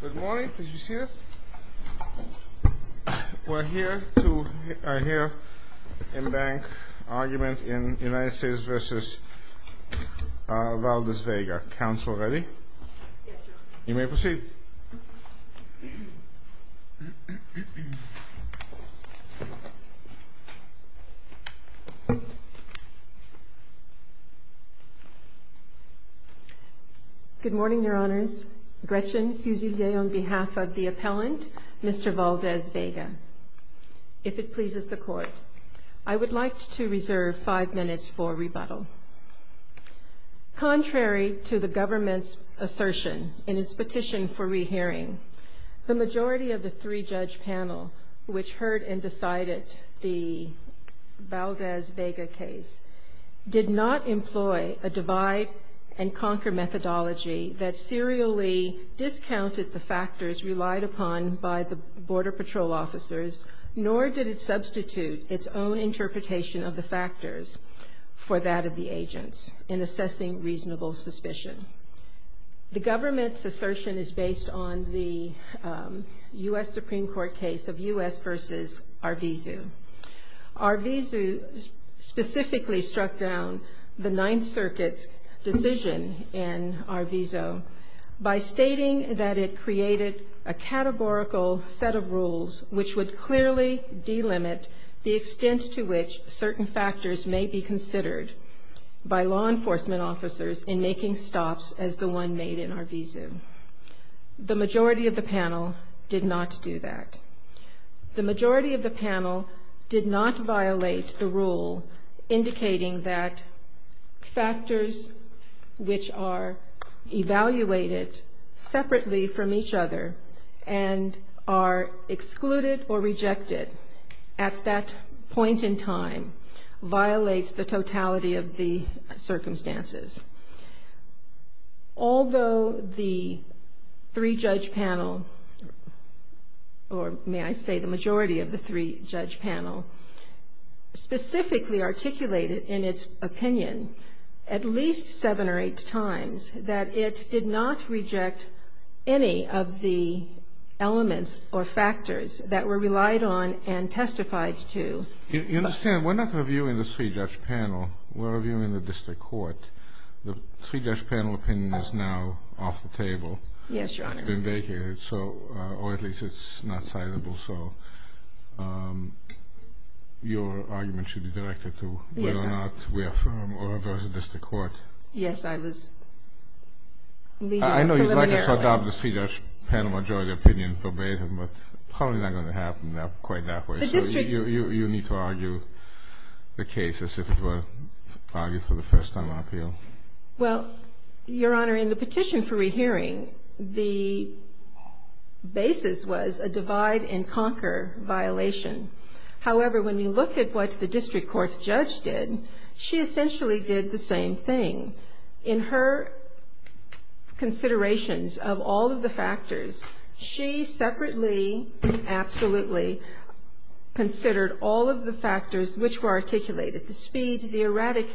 Good morning. We are here to hear the in-bank argument in the United States v. Valdes-Vega. Our counsel ready? You may proceed. Good morning, Your Honors. Gretchen Susie Day on behalf of the appellant, Mr. Valdes-Vega. If it pleases the Court, I would like to reserve five minutes for rebuttal. Contrary to the government's assertion in its petition for rehearing, the majority of the three-judge panel which heard and decided the Valdes-Vega case did not employ a divide-and-conquer methodology that serially discounted the factors relied upon by the Border Patrol officers, nor did it substitute its own interpretation of the factors for that of the agents in assessing reasonable suspicion. The government's assertion is based on the U.S. Supreme Court case of U.S. v. Arvizu. Arvizu specifically struck down the Ninth Circuit's decision in Arvizu by stating that it created a categorical set of rules which would clearly delimit the extent to which certain factors may be considered by law enforcement officers in making stops as the one made in Arvizu. The majority of the panel did not do that. The majority of the panel did not violate the rule indicating that factors which are evaluated separately from each other and are excluded or rejected at that point in time violates the totality of the circumstances. Although the three-judge panel, or may I say the majority of the three-judge panel, specifically articulated in its opinion at least seven or eight times that it did not reject any of the elements or factors that were relied on and testified to. You understand, we're not reviewing the three-judge panel. We're reviewing the district court. The three-judge panel opinion is now off the table. Yes, Your Honor. It's been vacated, or at least it's not citable. So your argument should be directed to whether or not we affirm or reverse the district court. Yes, I would. I know you'd like to shut down the three-judge panel majority opinion verbatim, but how is that going to happen quite that way? You need to argue the case as if it were argued for the first time on appeal. Well, Your Honor, in the petition for rehearing, the basis was a divide-and-conquer violation. However, when you look at what the district court judge did, she essentially did the same thing. In her considerations of all of the factors, she separately absolutely considered all of the factors which were articulated, the speed, the erratic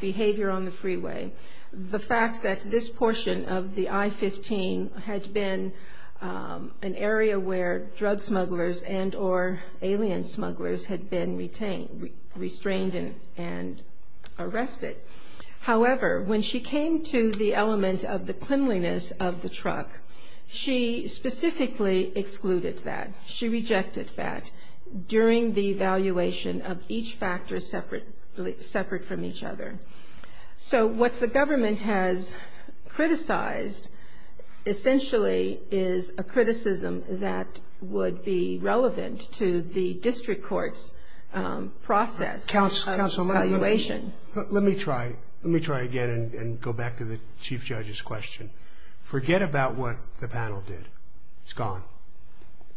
behavior on the freeway, the fact that this portion of the I-15 had been an area where drug smugglers and or alien smugglers had been restrained and arrested. However, when she came to the element of the cleanliness of the truck, she specifically excluded that. She rejected that during the evaluation of each factor separate from each other. So what the government has criticized essentially is a criticism that would be relevant to the district court's process of evaluation. Let me try again and go back to the Chief Judge's question. It's gone.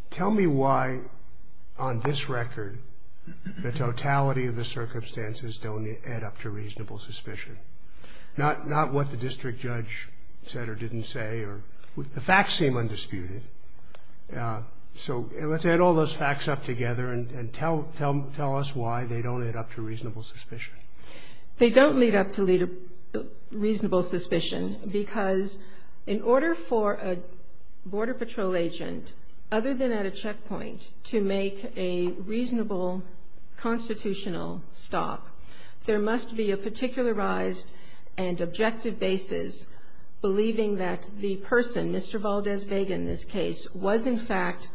Tell me why on this record the totality of the circumstances don't add up to reasonable suspicion. Not what the district judge said or didn't say. The facts seem undisputed. So let's add all those facts up together and tell us why they don't add up to reasonable suspicion. They don't lead up to reasonable suspicion because in order for a Border Patrol agent, other than at a checkpoint, to make a reasonable constitutional stop, there must be a particularized and objective basis believing that the person, Mr. Valdez Vega in this case, was in fact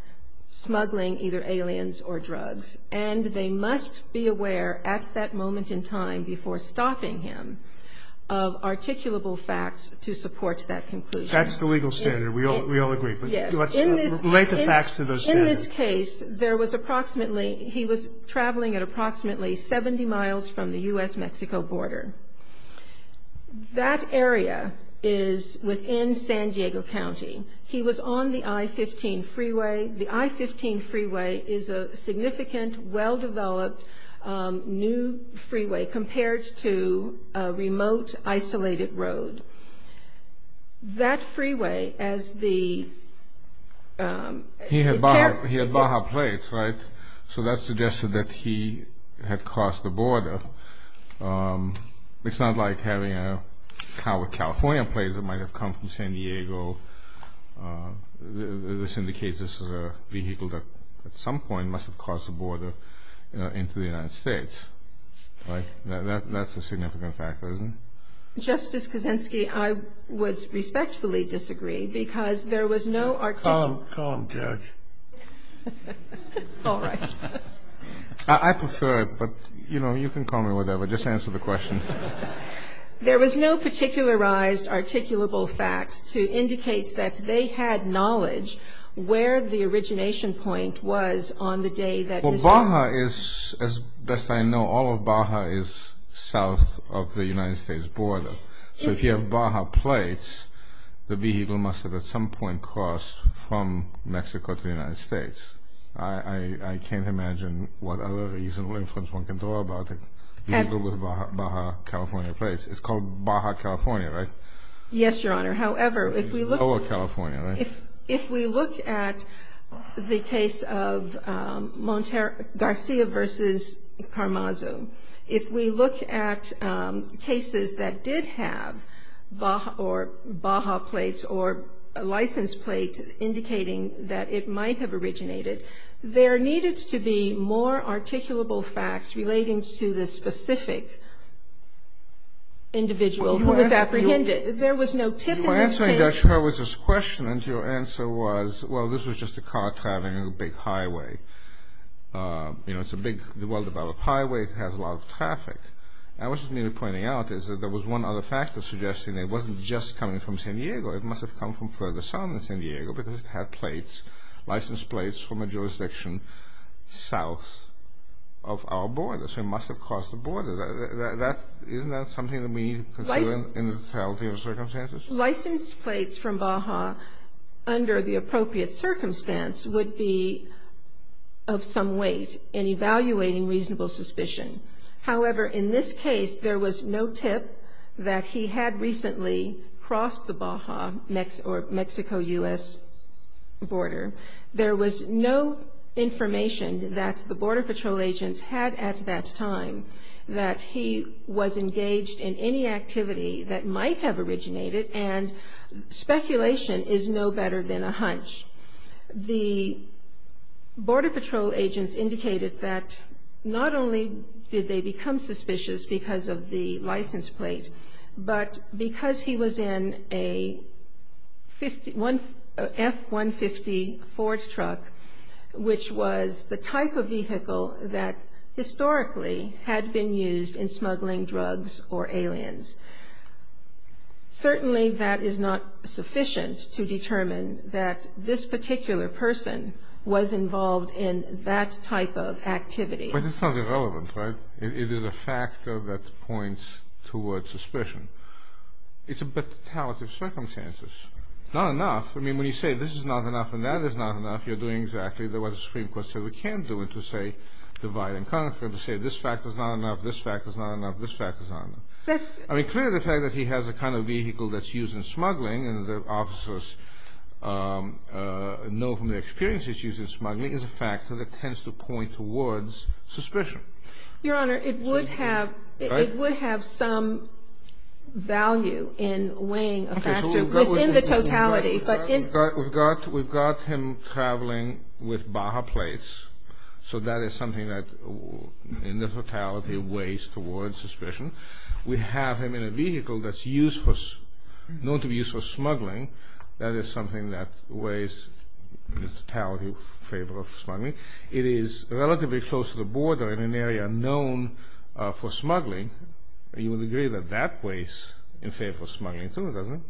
smuggling either aliens or drugs. And they must be aware at that moment in time before stopping him of articulable facts to support that conclusion. That's the legal standard. We all agree. Yes. In this case, there was approximately, he was traveling at approximately 70 miles from the U.S.-Mexico border. That area is within San Diego County. He was on the I-15 freeway. The I-15 freeway is a significant, well-developed new freeway compared to a remote, isolated road. That freeway as the- He had Baja plates, right? So that suggested that he had crossed the border. It's not like having a California plate that might have come from San Diego. This indicates this is a vehicle that at some point must have crossed the border into the United States. Right? That's a significant factor, isn't it? Justice Kuczynski, I would respectfully disagree because there was no- Calm. Calm, Judge. All right. I prefer it, but you know, you can call me whatever. Just answer the question. There was no particularized articulable fact to indicate that they had knowledge where the origination point was on the day that- Well, Baja is, as best I know, all of Baja is south of the United States border. So if you have Baja plates, the vehicle must have at some point crossed from Mexico to the United States. I can't imagine what other reasonable inference one can throw about the vehicle with Baja California plates. It's called Baja California, right? Yes, Your Honor. However, if we look- Lower California, right? There needed to be more articulable facts relating to the specific individual who was apprehended. There was no tip- My answer, Judge, was this question, and your answer was, well, this was just a car traveling on a big highway. You know, it's a big, well-developed highway. It has a lot of traffic. I was merely pointing out that there was one other factor suggesting it wasn't just coming from San Diego. It must have come from further south than San Diego because it had plates, licensed plates from a jurisdiction south of our border. So it must have crossed the border. Isn't that something that we consider in the totality of circumstances? Licensed plates from Baja under the appropriate circumstance would be of some weight in evaluating reasonable suspicion. However, in this case, there was no tip that he had recently crossed the Baja or Mexico-U.S. border. There was no information that the Border Patrol agents had at that time that he was engaged in any activity that might have originated, and speculation is no better than a hunch. The Border Patrol agents indicated that not only did they become suspicious because of the licensed plates, but because he was in a F-150 Ford truck, which was the type of vehicle that historically had been used in smuggling drugs or aliens. Certainly, that is not sufficient to determine that this particular person was involved in that type of activity. But it's not irrelevant, right? It is a factor that points towards suspicion. It's a bit of the totality of circumstances. Not enough. I mean, when you say this is not enough and that is not enough, you're doing exactly what the Supreme Court said we can do, and to say divide and conquer, and to say this fact is not enough, this fact is not enough, this fact is not enough. I mean, clearly the fact that he has the kind of vehicle that's used in smuggling, and the officers know from their experience that he's used in smuggling, is a factor that tends to point towards suspicion. Your Honor, it would have some value in weighing a factor within the totality. We've got him traveling with Baja plates, so that is something that in the totality weighs towards suspicion. We have him in a vehicle that's known to be used for smuggling. That is something that weighs in the totality in favor of smuggling. It is relatively close to the border in an area known for smuggling. You would agree that that weighs in favor of smuggling, too, doesn't it?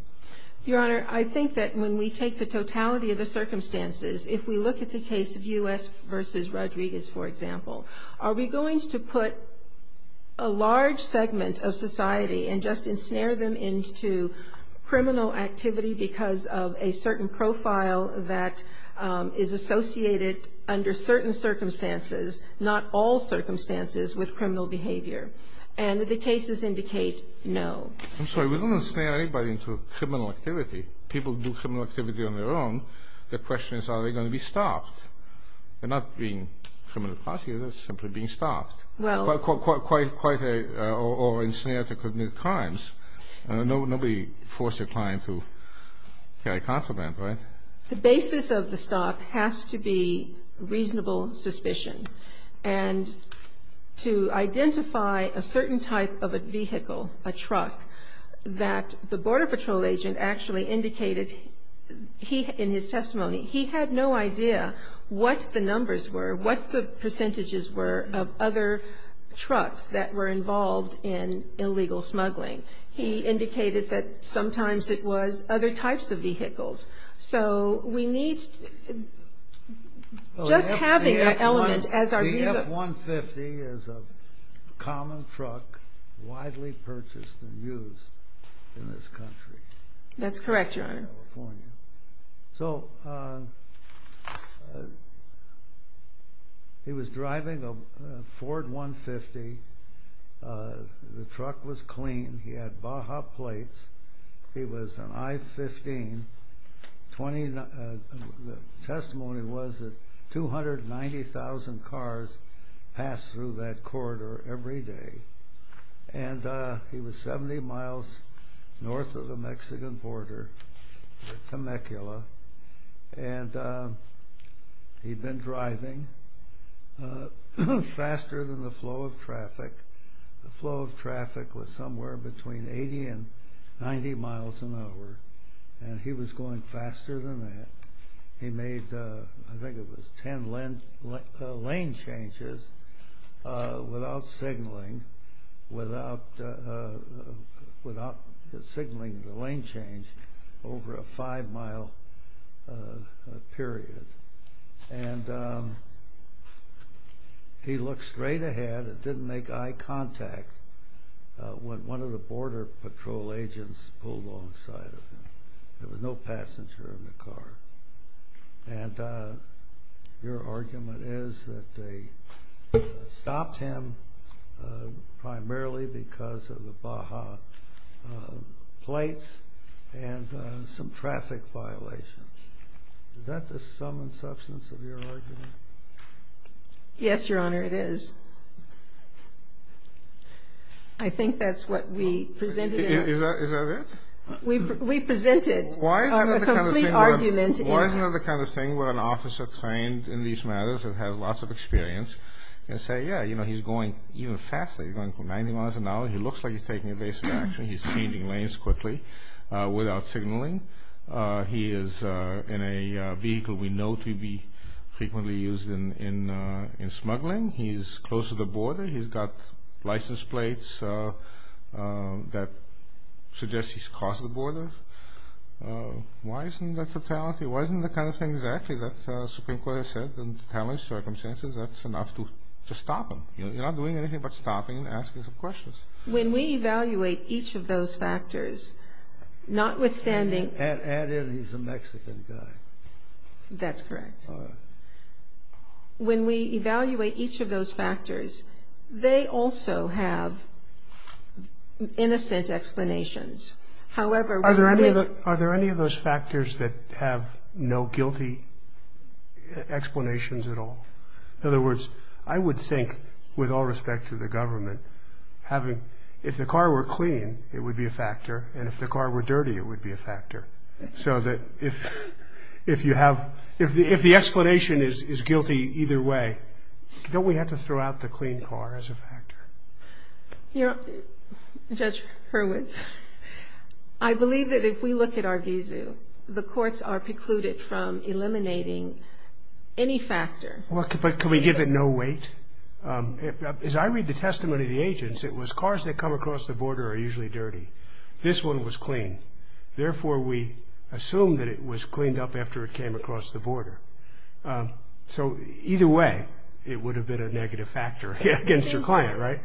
Your Honor, I think that when we take the totality of the circumstances, if we look at the case of U.S. v. Rodriguez, for example, are we going to put a large segment of society and just ensnare them into criminal activity because of a certain profile that is associated under certain circumstances, not all circumstances, with criminal behavior? And the cases indicate no. I'm sorry, we don't ensnare anybody into criminal activity. People do criminal activity on their own. The question is, are they going to be stopped? They're not being criminal prosecuted, they're simply being stopped or ensnared to commit crimes. Nobody forced a client to carry a consulant, right? The basis of the stop has to be reasonable suspicion. And to identify a certain type of a vehicle, a truck, that the Border Patrol agent actually indicated in his testimony, he had no idea what the numbers were, what the percentages were of other trucks that were involved in illegal smuggling. He indicated that sometimes it was other types of vehicles. So we need just having that element as our view. The F-150 is a common truck, widely purchased and used in this country. That's correct, Your Honor. So he was driving a Ford 150. The truck was clean. He had Baja plates. He was an I-15. The testimony was that 290,000 cars passed through that corridor every day. And he was 70 miles north of the Mexican border, Temecula. And he'd been driving faster than the flow of traffic. The flow of traffic was somewhere between 80 and 90 miles an hour. And he was going faster than that. He made, I think it was, 10 lane changes without signaling the lane change over a five-mile period. And he looked straight ahead and didn't make eye contact when one of the Border Patrol agents pulled alongside of him. There was no passenger in the car. And your argument is that they stopped him primarily because of the Baja plates and some traffic violations. Is that the sum and substance of your argument? Yes, Your Honor, it is. I think that's what we presented. Is that it? We presented a complete argument. Why is it the kind of thing where an officer trained in these matters and has lots of experience can say, yeah, you know, he's going even faster. He's going for 90 miles an hour. He looks like he's taking evasive action. He's changing lanes quickly without signaling. He is in a vehicle we know to be frequently used in smuggling. He's close to the border. He's got license plates that suggest he's crossed the border. Why isn't there fatality? Why isn't the kind of thing exactly that the Supreme Court has said, in the current circumstances, that's enough to stop him? You're not doing anything but stopping and asking some questions. When we evaluate each of those factors, notwithstanding... And he's a Mexican guy. That's correct. When we evaluate each of those factors, they also have innocent explanations. However... Are there any of those factors that have no guilty explanations at all? In other words, I would think, with all respect to the government, having... If the car were clean, it would be a factor, and if the car were dirty, it would be a factor. So that if you have... If the explanation is guilty either way, don't we have to throw out the clean car as a factor? Judge Hurwitz, I believe that if we look at our vizu, the courts are precluded from eliminating any factor. But can we give it no weight? As I read the testimony of the agents, it was cars that come across the border are usually dirty. This one was clean. Therefore, we assume that it was cleaned up after it came across the border. So either way, it would have been a negative factor against your client, right?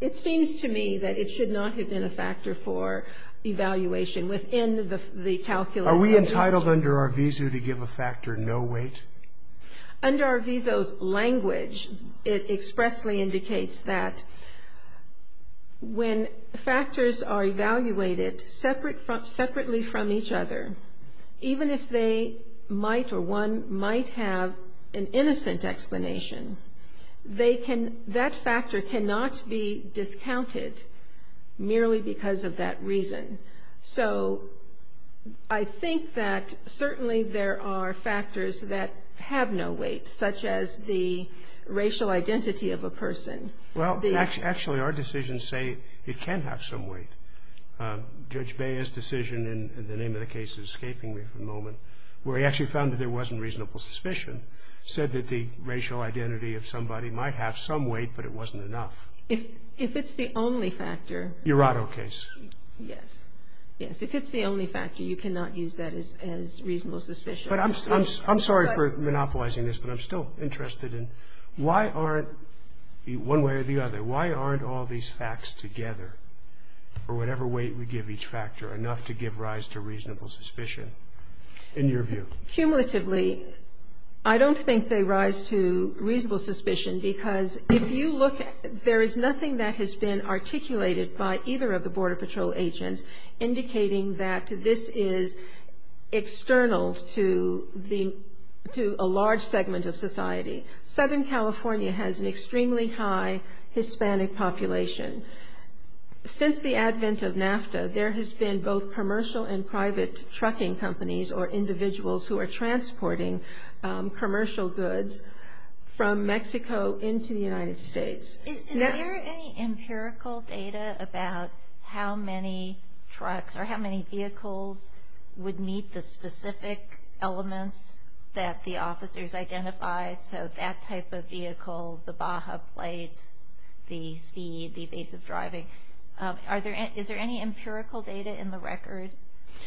It seems to me that it should not have been a factor for evaluation within the calculus. Are we entitled under our vizu to give a factor no weight? Under our vizu's language, it expressly indicates that when factors are evaluated separately from each other, even if they might or one might have an innocent explanation, that factor cannot be discounted merely because of that reason. So I think that certainly there are factors that have no weight, such as the racial identity of a person. Well, actually, our decisions say it can have some weight. Judge Baez's decision in the name of the case that's escaping me for the moment, where he actually found that there wasn't reasonable suspicion, said that the racial identity of somebody might have some weight, but it wasn't enough. If it's the only factor. Your auto case. Yes. Yes, if it's the only factor, you cannot use that as reasonable suspicion. I'm sorry for monopolizing this, but I'm still interested in why aren't, one way or the other, why aren't all these facts together, or whatever weight we give each factor, enough to give rise to reasonable suspicion, in your view? Cumulatively, I don't think they rise to reasonable suspicion, because if you look at it, there is nothing that has been articulated by either of the Border Patrol agents indicating that this is external to a large segment of society. Southern California has an extremely high Hispanic population. Since the advent of NAFTA, there has been both commercial and private trucking companies who are transporting commercial goods from Mexico into the United States. Is there any empirical data about how many trucks or how many vehicles would meet the specific elements that the officers identified? So that type of vehicle, the Baja plates, the speed, the speed of driving. Is there any empirical data in the record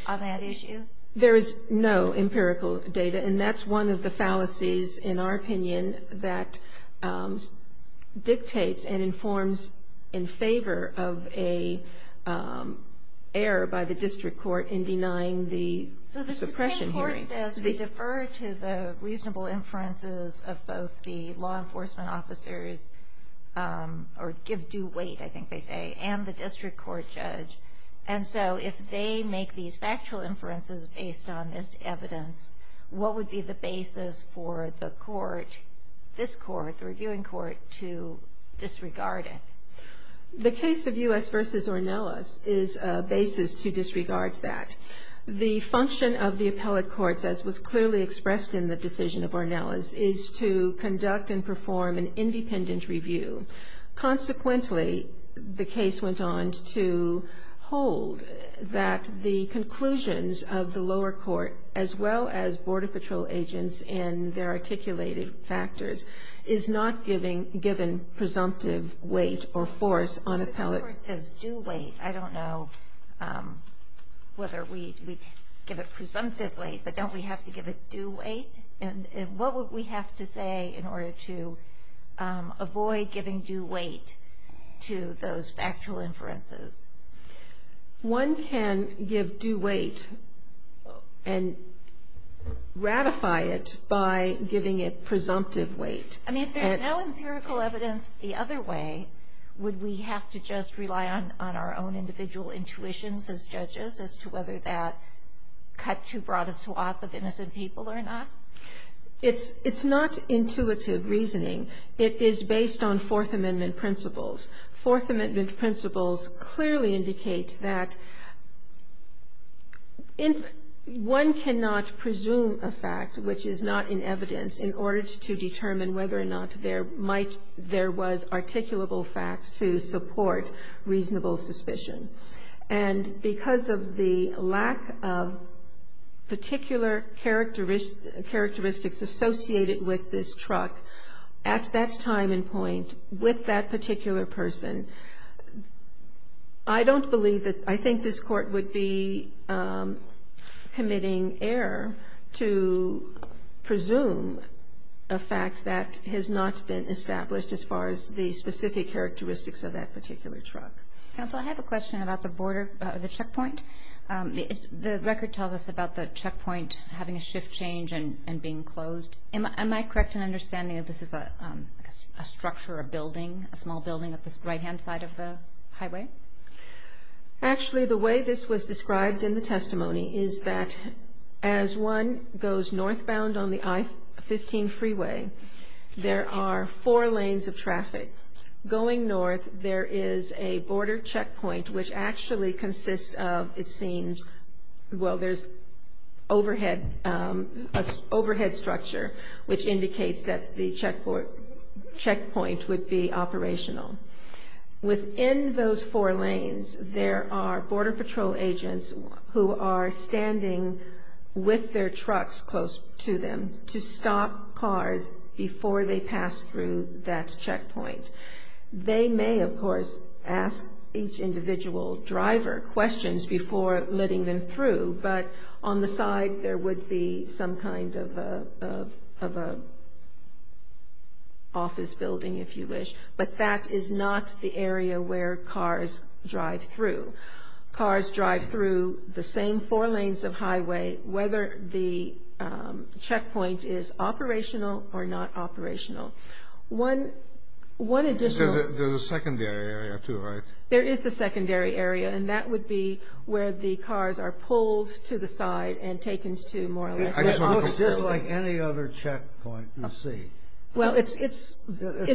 on that issue? There is no empirical data, and that's one of the fallacies, in our opinion, that dictates and informs in favor of an error by the district court in denying the suppression hearing. So the district court says we defer to the reasonable inferences of both the law enforcement officers, or give due weight, I think they say, and the district court judge. And so if they make these factual inferences based on this evidence, what would be the basis for the court, this court, the reviewing court, to disregard it? The case of U.S. v. Ornelas is a basis to disregard that. The function of the appellate courts, as was clearly expressed in the decision of Ornelas, is to conduct and perform an independent review. Consequently, the case went on to hold that the conclusions of the lower court, as well as border patrol agents in their articulated factors, is not given presumptive weight or force on appellate courts. If the court says due weight, I don't know whether we give it presumptively, but don't we have to give it due weight? And what would we have to say in order to avoid giving due weight to those factual inferences? One can give due weight and ratify it by giving it presumptive weight. I mean, if there's no empirical evidence the other way, would we have to just rely on our own individual intuitions as judges as to whether that cut too broad a swath of innocent people or not? It's not intuitive reasoning. It is based on Fourth Amendment principles. Fourth Amendment principles clearly indicate that one cannot presume a fact which is not in evidence in order to determine whether or not there was articulable fact to support reasonable suspicion. And because of the lack of particular characteristics associated with this truck, at that time and point, with that particular person, I don't believe that, I think this court would be committing error to presume a fact that has not been established as far as the specific characteristics of that particular truck. Counsel, I have a question about the border, the checkpoint. The record tells us about the checkpoint having a shift change and being closed. Am I correct in understanding that this is a structure, a building, a small building at the right-hand side of the highway? Actually, the way this was described in the testimony is that as one goes northbound on the I-15 freeway, there are four lanes of traffic. Going north, there is a border checkpoint which actually consists of, it seems, well, there's an overhead structure which indicates that the checkpoint would be operational. Within those four lanes, there are Border Patrol agents who are standing with their trucks close to them to stop cars before they pass through that checkpoint. They may, of course, ask each individual driver questions before letting them through, but on the side there would be some kind of an office building, if you wish, but that is not the area where cars drive through. Cars drive through the same four lanes of highway, whether the checkpoint is operational or not operational. There's a secondary area too, right? There is a secondary area, and that would be where the cars are pulled to the side and taken to more or less. It looks just like any other checkpoint in the city. Well, it's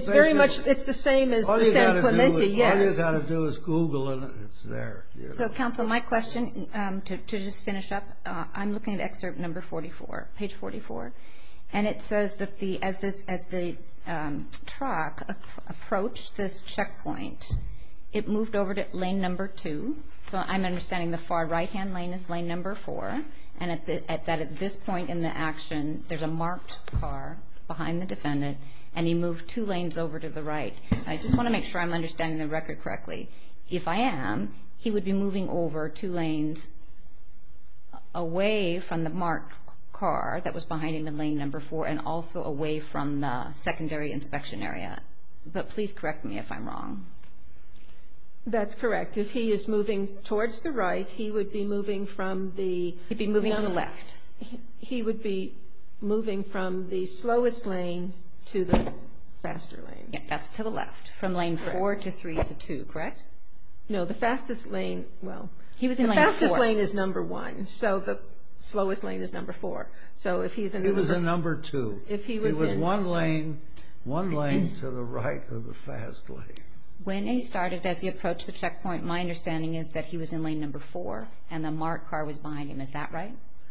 very much the same as San Clemente, yes. All you've got to do is Google it, and it's there. So, Counselor, my question, to just finish up, I'm looking at excerpt number 44, page 44, and it says that as the truck approached this checkpoint, it moved over to lane number two. So, I'm understanding the far right-hand lane is lane number four, and that at this point in the action, there's a marked car behind the defendant, and he moved two lanes over to the right. I just want to make sure I'm understanding the record correctly. If I am, he would be moving over two lanes away from the marked car that was behind in the lane number four and also away from the secondary inspection area. But please correct me if I'm wrong. That's correct. If he is moving towards the right, he would be moving from the – He'd be moving on the left. He would be moving from the slowest lane to the faster lane. That's to the left, from lane four to three to two, correct? No, the fastest lane – well, the fastest lane is number one, so the slowest lane is number four. So, if he's – It was a number two. If he was – It was one lane to the right of the fast lane. When he started at the approach to the checkpoint, my understanding is that he was in lane number four, and the marked car was behind him.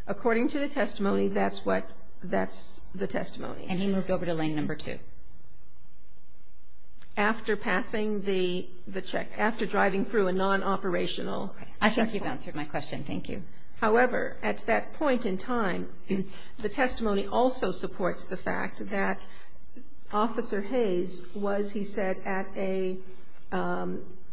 According to the testimony, that's what – that's the testimony. And he moved over to lane number two. After passing the check – after driving through a non-operational – I think you've answered my question. Thank you. However, at that point in time, the testimony also supports the fact that Officer Hayes was, he said, at a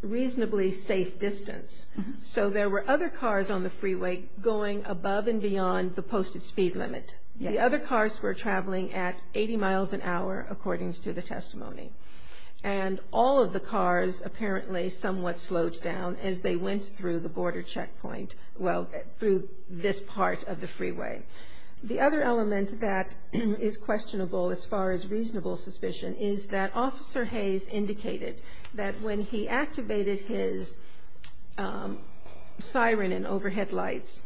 reasonably safe distance. So, there were other cars on the freeway going above and beyond the posted speed limit. The other cars were traveling at 80 miles an hour, according to the testimony. And all of the cars apparently somewhat slowed down as they went through the border checkpoint – well, through this part of the freeway. The other element that is questionable, as far as reasonable suspicion, is that Officer Hayes indicated that when he activated his siren and overhead lights,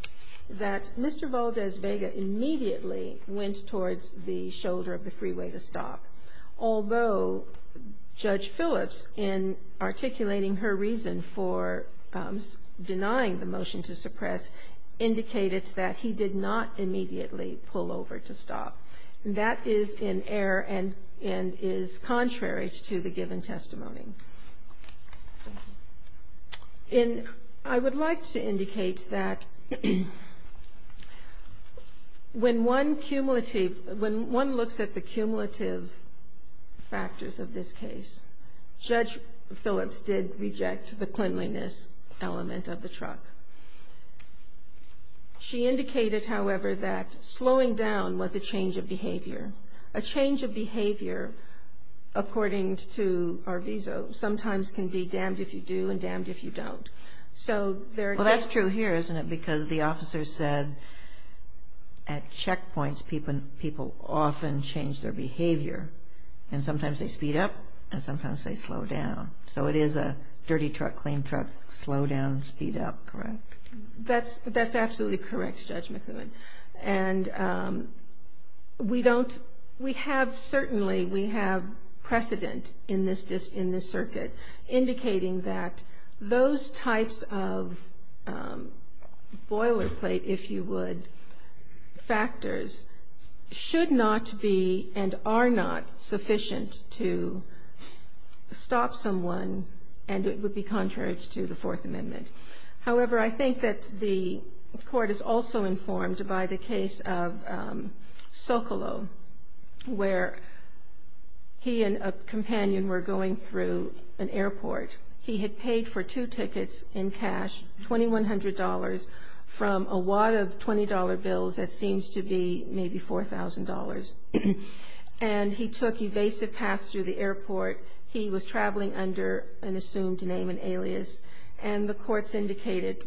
that Mr. Valdez-Vega immediately went towards the shoulder of the freeway to stop, although Judge Phillips, in articulating her reason for denying the motion to suppress, indicated that he did not immediately pull over to stop. That is in error and is contrary to the given testimony. And I would like to indicate that when one looks at the cumulative factors of this case, Judge Phillips did reject the cleanliness element of the truck. She indicated, however, that slowing down was a change of behavior. According to our visa, sometimes can be damned if you do and damned if you don't. So, there – Well, that's true here, isn't it? Because the officer said at checkpoints, people often change their behavior. And sometimes they speed up and sometimes they slow down. So, it is a dirty truck, clean truck, slow down, speed up, correct? That's absolutely correct, Judge McEwen. And we don't – we have – certainly, we have precedent in this circuit, indicating that those types of boilerplate, if you would, factors, should not be and are not sufficient to stop someone, and it would be contrary to the Fourth Amendment. However, I think that the court is also informed by the case of Socolow, where he and a companion were going through an airport. He had paid for two tickets in cash, $2,100, from a wad of $20 bills that seems to be maybe $4,000. And he took evasive paths through the airport. And the courts indicated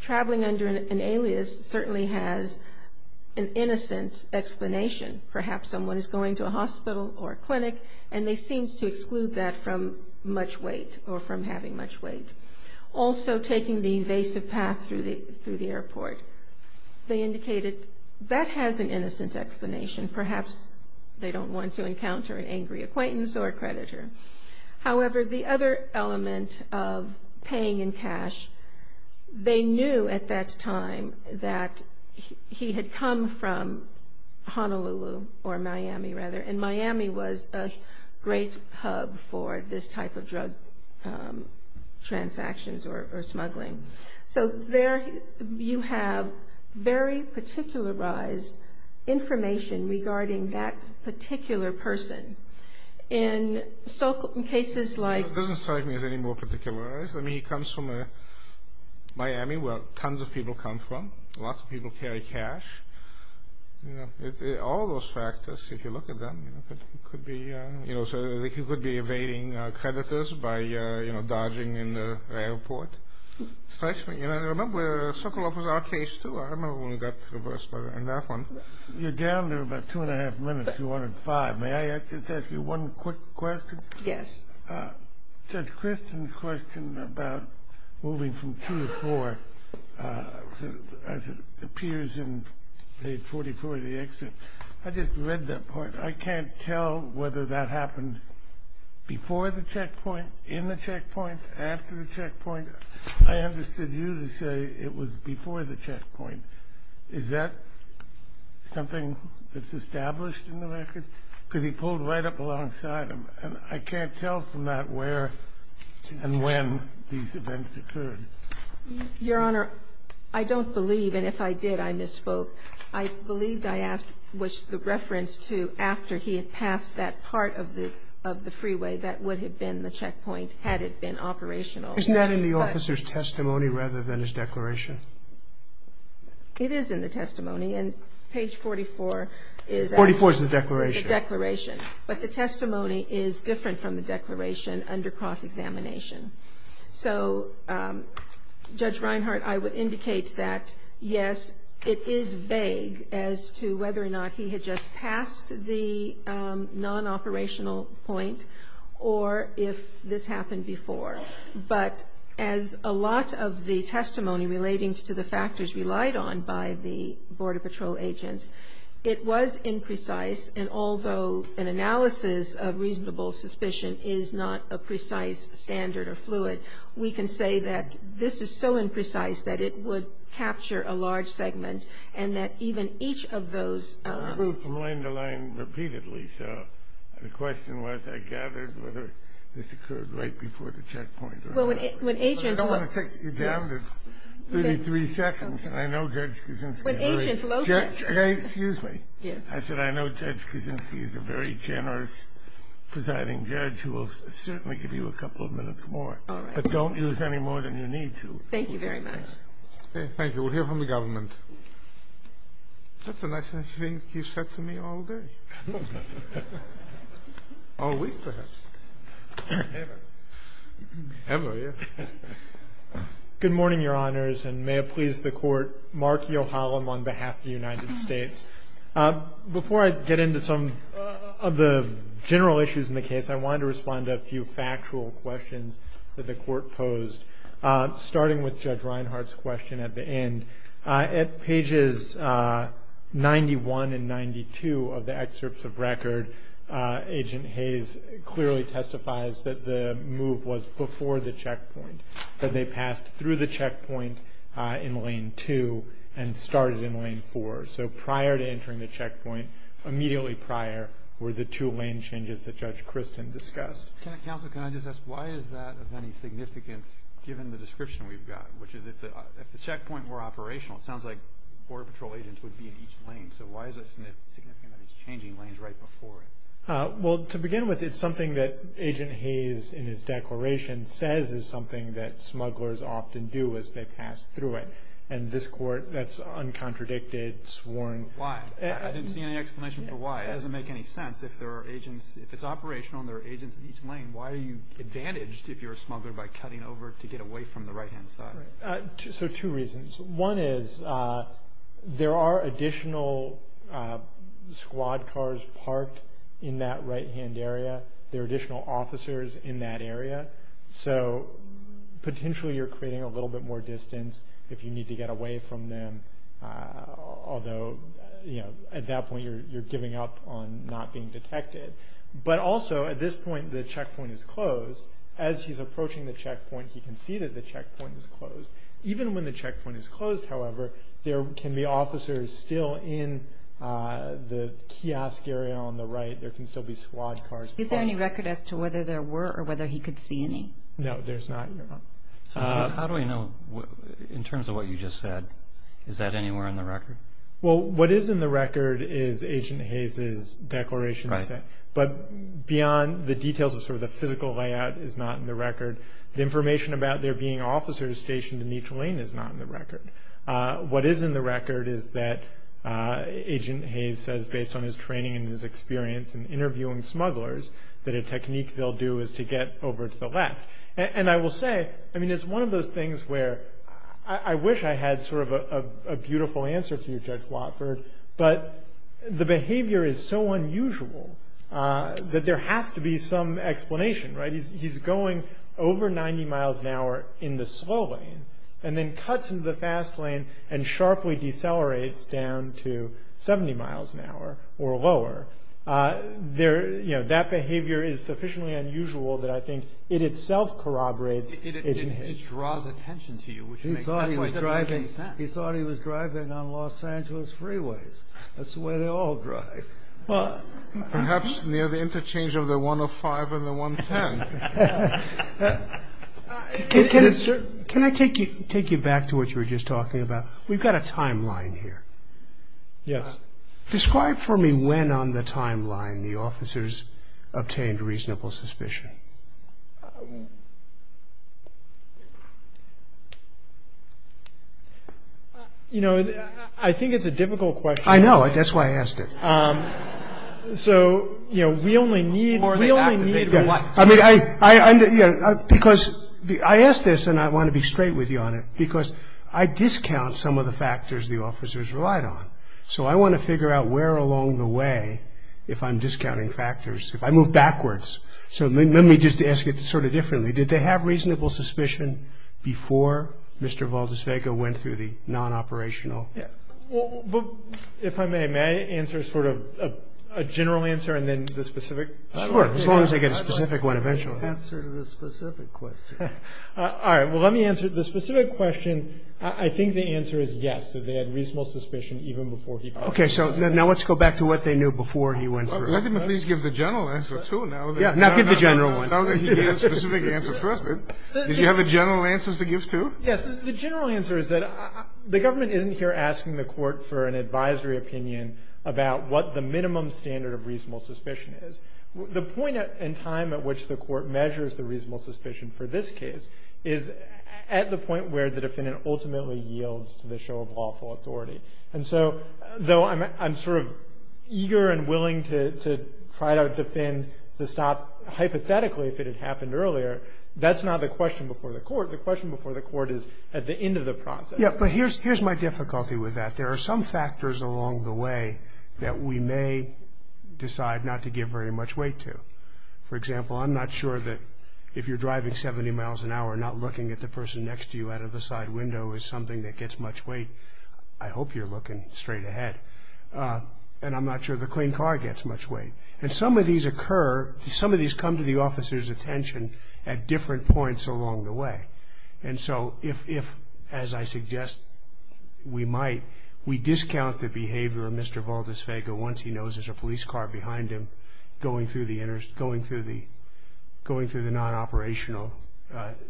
traveling under an alias certainly has an innocence explanation. Perhaps someone is going to a hospital or a clinic, and they seem to exclude that from much weight or from having much weight. Also, taking the evasive path through the airport. They indicated that has an innocence explanation. Perhaps they don't want to encounter an angry acquaintance or a creditor. However, the other element of paying in cash, they knew at that time that he had come from Honolulu or Miami, rather, and Miami was a great hub for this type of drug transactions or smuggling. So there you have very particularized information regarding that particular person. In cases like… It doesn't strike me as any more particularized. I mean, he comes from Miami, where tons of people come from. Lots of people carry cash. All those factors, if you look at them, they could be evading creditors by dodging in the airport. Remember, Socolow was our case, too. I remember when we got to the worst part in that one. You're down in about two and a half minutes to 105. May I just ask you one quick question? Yes. Judge Kristen's question about moving from 2 to 4, as it appears in page 44 of the exit, I just read that part. I can't tell whether that happened before the checkpoint, in the checkpoint, after the checkpoint. I understood you to say it was before the checkpoint. Is that something that's established in the record? Because he pulled right up alongside him. I can't tell from that where and when these events occurred. Your Honor, I don't believe, and if I did, I misspoke. I believe I asked what's the reference to after he had passed that part of the freeway. That would have been the checkpoint, had it been operational. Isn't that in the officer's testimony rather than his declaration? It is in the testimony, and page 44 is the declaration. But the testimony is different from the declaration under cross-examination. So, Judge Reinhart, I would indicate that, yes, it is vague as to whether or not he had just passed the non-operational point or if this happened before. But as a lot of the testimony relating to the factors relied on by the Border Patrol agents, it was imprecise. And although an analysis of reasonable suspicion is not a precise standard or fluid, we can say that this is so imprecise that it would capture a large segment and that even each of those – Well, I spoke from line to line repeatedly, so the question was I gathered whether this occurred right before the checkpoint. Well, when agents – I don't want to take you down to 33 seconds. I know Judge Kuczynski – When agents – Excuse me. Yes. I said I know Judge Kuczynski is a very generous presiding judge who will certainly give you a couple of minutes more. But don't use any more than you need to. Thank you very much. Thank you. We'll hear from the government. That's the last thing he said to me all day. All week perhaps. Ever. Ever, yes. Good morning, Your Honors, and may it please the Court. Mark Yohalam on behalf of the United States. Before I get into some of the general issues in the case, I wanted to respond to a few factual questions that the Court posed, starting with Judge Reinhart's question at the end. At pages 91 and 92 of the excerpts of record, Agent Hayes clearly testifies that the move was before the checkpoint, that they passed through the checkpoint in Lane 2 and started in Lane 4. So prior to entering the checkpoint, immediately prior were the two lane changes that Judge Christin discussed. Counsel, can I just ask, why is that of any significance given the description we've got, which is if the checkpoint were operational, it sounds like Border Patrol agents would be in each lane. So why is that significant if it's changing lanes right before it? Well, to begin with, it's something that Agent Hayes in his declaration says is something that smugglers often do as they pass through it. And this Court, that's uncontradicted, sworn. Why? I didn't see any explanation for why. It doesn't make any sense. If it's operational and there are agents in each lane, why are you advantaged if you're a smuggler by cutting over to get away from the right-hand side? So two reasons. One is there are additional squad cars parked in that right-hand area. There are additional officers in that area. So potentially you're creating a little bit more distance if you need to get away from them, although at that point you're giving up on not being detected. But also at this point the checkpoint is closed. As he's approaching the checkpoint, he can see that the checkpoint is closed. Even when the checkpoint is closed, however, there can be officers still in the kiosk area on the right. There can still be squad cars parked. Is there any record as to whether there were or whether he could see any? No, there's not. How do we know in terms of what you just said? Is that anywhere in the record? Well, what is in the record is Agent Hayes's declaration, I think. But beyond the details of sort of the physical layout is not in the record. The information about there being officers stationed in each lane is not in the record. What is in the record is that Agent Hayes says based on his training and his experience in interviewing smugglers that a technique they'll do is to get over to the left. And I will say, I mean, it's one of those things where I wish I had sort of a beautiful answer to you, Judge Watford, but the behavior is so unusual that there has to be some explanation, right? He's going over 90 miles an hour in the slow lane and then cuts into the fast lane and sharply decelerates down to 70 miles an hour or lower. That behavior is sufficiently unusual that I think it itself corroborates Agent Hayes. It draws attention to you. He thought he was driving on Los Angeles freeways. That's the way they all drive. Perhaps near the interchange of the 105 and the 110. Can I take you back to what you were just talking about? We've got a timeline here. Yes. Describe for me when on the timeline the officers obtained reasonable suspicion. You know, I think it's a difficult question. I know. That's why I asked it. So, you know, we only need. I mean, because I asked this and I want to be straight with you on it because I discount some of the factors the officers relied on. So I want to figure out where along the way if I'm discounting factors, if I move backwards. So let me just ask it sort of differently. Did they have reasonable suspicion before Mr. Valdisvega went through the non-operational? If I may, may I answer sort of a general answer and then the specific? Sure, as long as they get a specific one eventually. I'll answer the specific question. All right. Well, let me answer the specific question. I think the answer is yes, that they had reasonable suspicion even before he. Okay. So now let's go back to what they knew before he went through. Let me please give the general answer too. Not give the general one. I'll give you the specific answer first. Did you have the general answers to give too? Yes. The general answer is that the government isn't here asking the court for an advisory opinion about what the minimum standard of reasonable suspicion is. The point in time at which the court measures the reasonable suspicion for this case is at the point where the defendant ultimately yields to the show of lawful authority. And so though I'm sort of eager and willing to try to defend the stop hypothetically if it had happened earlier, that's not the question before the court. The question before the court is at the end of the process. Yes, but here's my difficulty with that. There are some factors along the way that we may decide not to give very much weight to. For example, I'm not sure that if you're driving 70 miles an hour, not looking at the person next to you out of the side window is something that gets much weight. I hope you're looking straight ahead. And I'm not sure the clean car gets much weight. And some of these occur, some of these come to the officer's attention at different points along the way. And so if, as I suggest, we might, we discount the behavior of Mr. Valdisvega once he knows there's a police car behind him going through the non-operational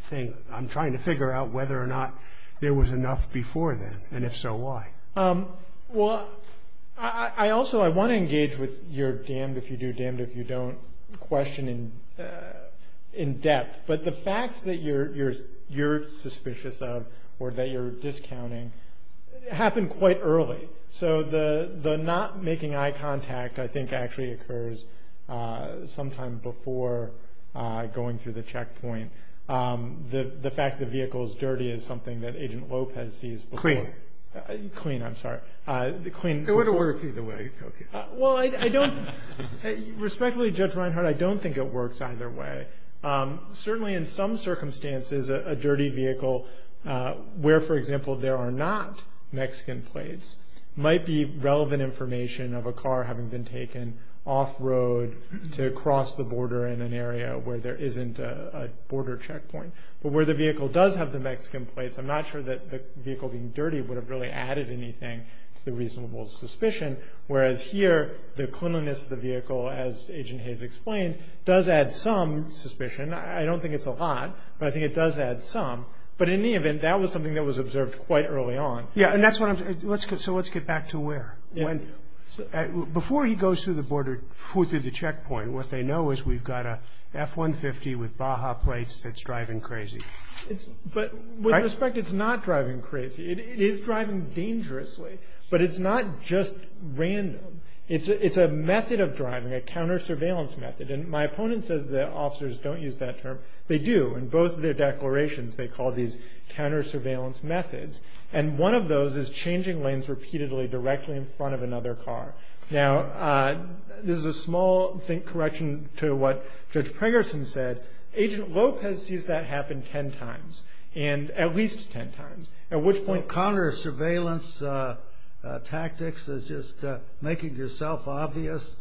thing. I'm trying to figure out whether or not there was enough before then, and if so, why. Well, I also want to engage with your damned if you do, damned if you don't question in depth. But the fact that you're suspicious of or that you're discounting happened quite early. So the not making eye contact I think actually occurs sometime before going through the checkpoint. The fact the vehicle is dirty is something that Agent Lopez sees before. Clean. Clean, I'm sorry. I want to work either way. Well, I don't, respectfully Judge Reinhart, I don't think it works either way. Certainly in some circumstances a dirty vehicle where, for example, there are not Mexican plates, might be relevant information of a car having been taken off road to cross the border in an area where there isn't a border checkpoint. But where the vehicle does have the Mexican plates, I'm not sure that the vehicle being dirty would have really added anything to the reasonable suspicion, whereas here the cleanliness of the vehicle, as Agent Hayes explained, does add some suspicion. I don't think it's a lot, but I think it does add some. But in any event, that was something that was observed quite early on. Yeah, so let's get back to where. Before he goes through the checkpoint, what they know is we've got a F-150 with Baja plates that's driving crazy. But with respect, it's not driving crazy. It is driving dangerously, but it's not just random. It's a method of driving, a counter-surveillance method. And my opponent says the officers don't use that term. They do. In both of their declarations they call these counter-surveillance methods. And one of those is changing lanes repeatedly directly in front of another car. Now, there's a small correction to what Judge Prengerson said. Agent Lopez sees that happen ten times, and at least ten times, at which point – Counter-surveillance tactics is just making yourself obvious,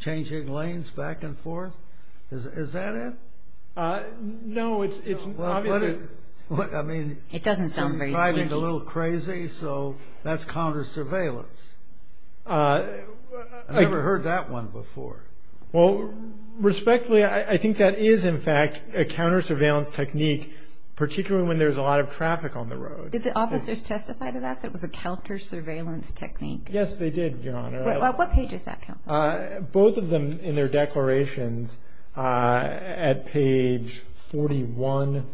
changing lanes back and forth? Is that it? No, it's – I mean – It doesn't sound dangerous. It's driving a little crazy, so that's counter-surveillance. I've never heard that one before. Well, respectfully, I think that is, in fact, a counter-surveillance technique, particularly when there's a lot of traffic on the road. Did the officers testify to that, that it was a counter-surveillance technique? Yes, they did, Your Honor. What page does that come from? Both of them, in their declarations, at page 41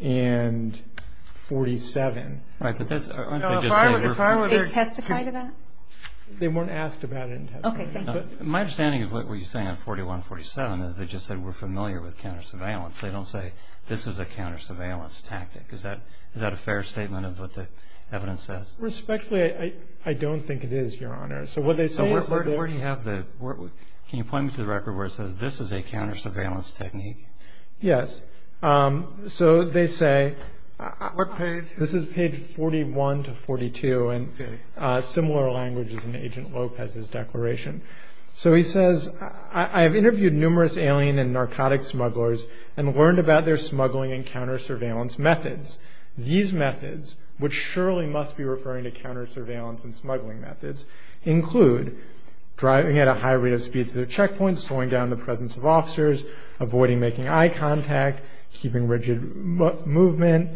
and 47. All right, but that's – Did they testify to that? They weren't asked about it. My understanding of what you're saying on 41 and 47 is they just said we're familiar with counter-surveillance. They don't say this is a counter-surveillance tactic. Is that a fair statement of what the evidence says? Respectfully, I don't think it is, Your Honor. Can you point me to the record where it says this is a counter-surveillance technique? Yes. So they say – What page? This is page 41 to 42, and similar language as in Agent Lopez's declaration. So he says, I have interviewed numerous alien and narcotic smugglers and learned about their smuggling and counter-surveillance methods. These methods, which surely must be referring to counter-surveillance and smuggling methods, include driving at a high rate of speed through the checkpoint, slowing down the presence of officers, avoiding making eye contact, keeping rigid movement,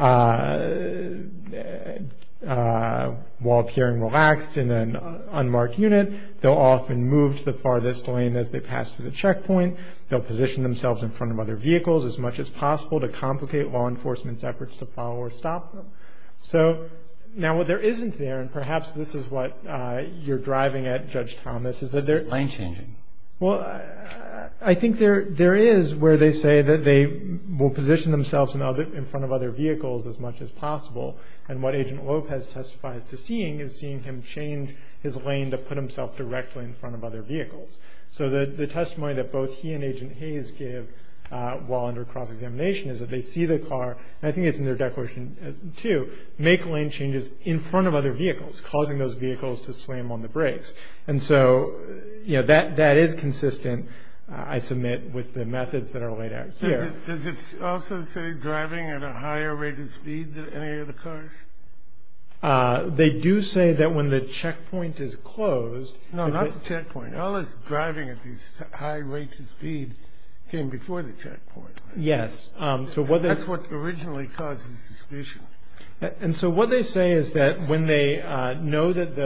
while appearing relaxed in an unmarked unit. They'll often move to the farthest lane as they pass through the checkpoint. They'll position themselves in front of other vehicles as much as possible to complicate law enforcement's efforts to follow or stop them. So now what there isn't there, and perhaps this is what you're driving at, Judge Thomas, is that there – Lane changing. Well, I think there is where they say that they will position themselves in front of other vehicles as much as possible, and what Agent Lopez testifies to seeing is seeing him change his lane to put himself directly in front of other vehicles. So the testimony that both he and Agent Hayes give while under cross-examination is that they see the car – and I think it's in their declaration too – make lane changes in front of other vehicles, causing those vehicles to slam on the brakes. And so, yeah, that is consistent, I submit, with the methods that are laid out here. Does it also say driving at a higher rate of speed than any other cars? They do say that when the checkpoint is closed – No, not the checkpoint. All this driving at these high rates of speed came before the checkpoint. Yes. That's what originally caused the suspicion. And so what they say is that when they know that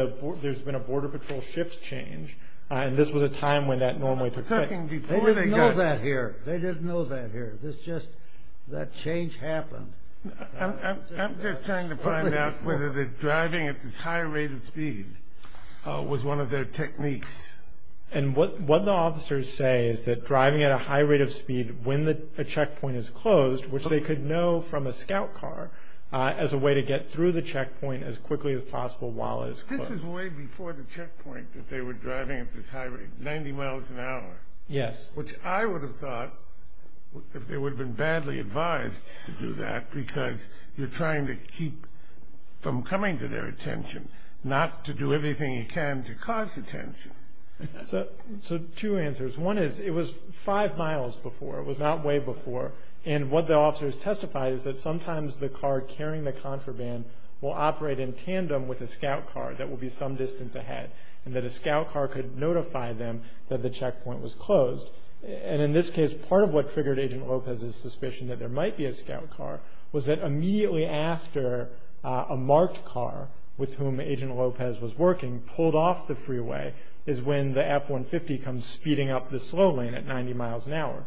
there's been a Border Patrol shift change, and this was a time when that normally took place – They didn't know that here. They didn't know that here. This just – that change happened. I'm just trying to find out whether the driving at this high rate of speed was one of their techniques. And what the officers say is that driving at a high rate of speed when a checkpoint is closed, which they could know from a scout car, as a way to get through the checkpoint as quickly as possible while it is closed. This is way before the checkpoint that they were driving at this high rate – 90 miles an hour. Yes. Which I would have thought that they would have been badly advised to do that because you're trying to keep from coming to their attention, not to do everything you can to cause attention. So two answers. One is it was five miles before. It was not way before. And what the officers testified is that sometimes the car carrying the contraband will operate in tandem with a scout car that will be some distance ahead and that a scout car could notify them that the checkpoint was closed. And in this case, part of what triggered Agent Lopez's suspicion that there might be a scout car was that immediately after a marked car with whom Agent Lopez was working pulled off the freeway is when the F-150 comes speeding up the slow lane at 90 miles an hour.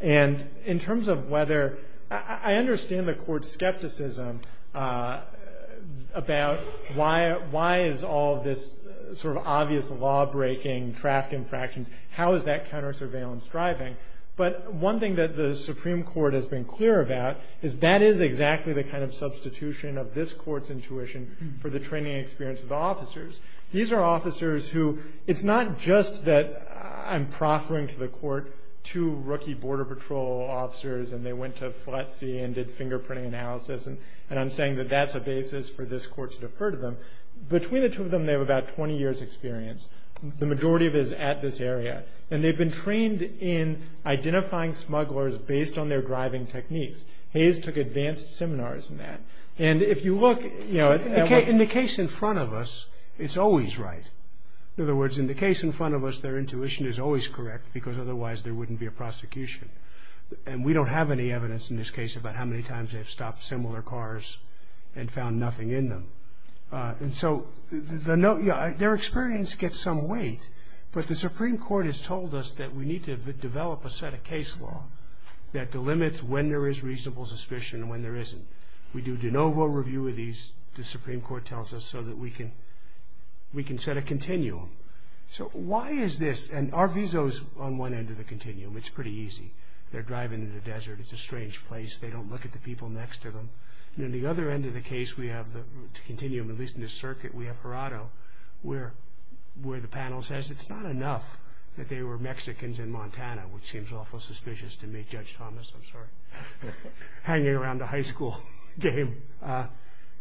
And in terms of whether – I understand the court's skepticism about why is all this sort of obvious law-breaking, traffic infractions, how is that counter-surveillance driving? But one thing that the Supreme Court has been clear about is that is exactly the kind of substitution of this court's intuition for the training experience of the officers. These are officers who – it's not just that I'm proffering to the court two rookie Border Patrol officers and they went to FLETC and did fingerprinting analysis, and I'm saying that that's a basis for this court to defer to them. Between the two of them, they have about 20 years' experience. The majority of it is at this area. And they've been trained in identifying smugglers based on their driving techniques. Hayes took advanced seminars in that. And if you look – In the case in front of us, it's always right. In other words, in the case in front of us, their intuition is always correct because otherwise there wouldn't be a prosecution. And we don't have any evidence in this case about how many times they have stopped similar cars and found nothing in them. And so their experience gets some weight, but the Supreme Court has told us that we need to develop a set of case law that delimits when there is reasonable suspicion and when there isn't. We do de novo review of these, the Supreme Court tells us, so that we can set a continuum. So why is this? And our visa is on one end of the continuum. It's pretty easy. They're driving in the desert. It's a strange place. They don't look at the people next to them. And on the other end of the case, we have the continuum, at least in this circuit, we have Corrado, where the panel says it's not enough that they were Mexicans in Montana, which seems awful suspicious to me, Judge Thomas, I'm sorry, hanging around a high school game.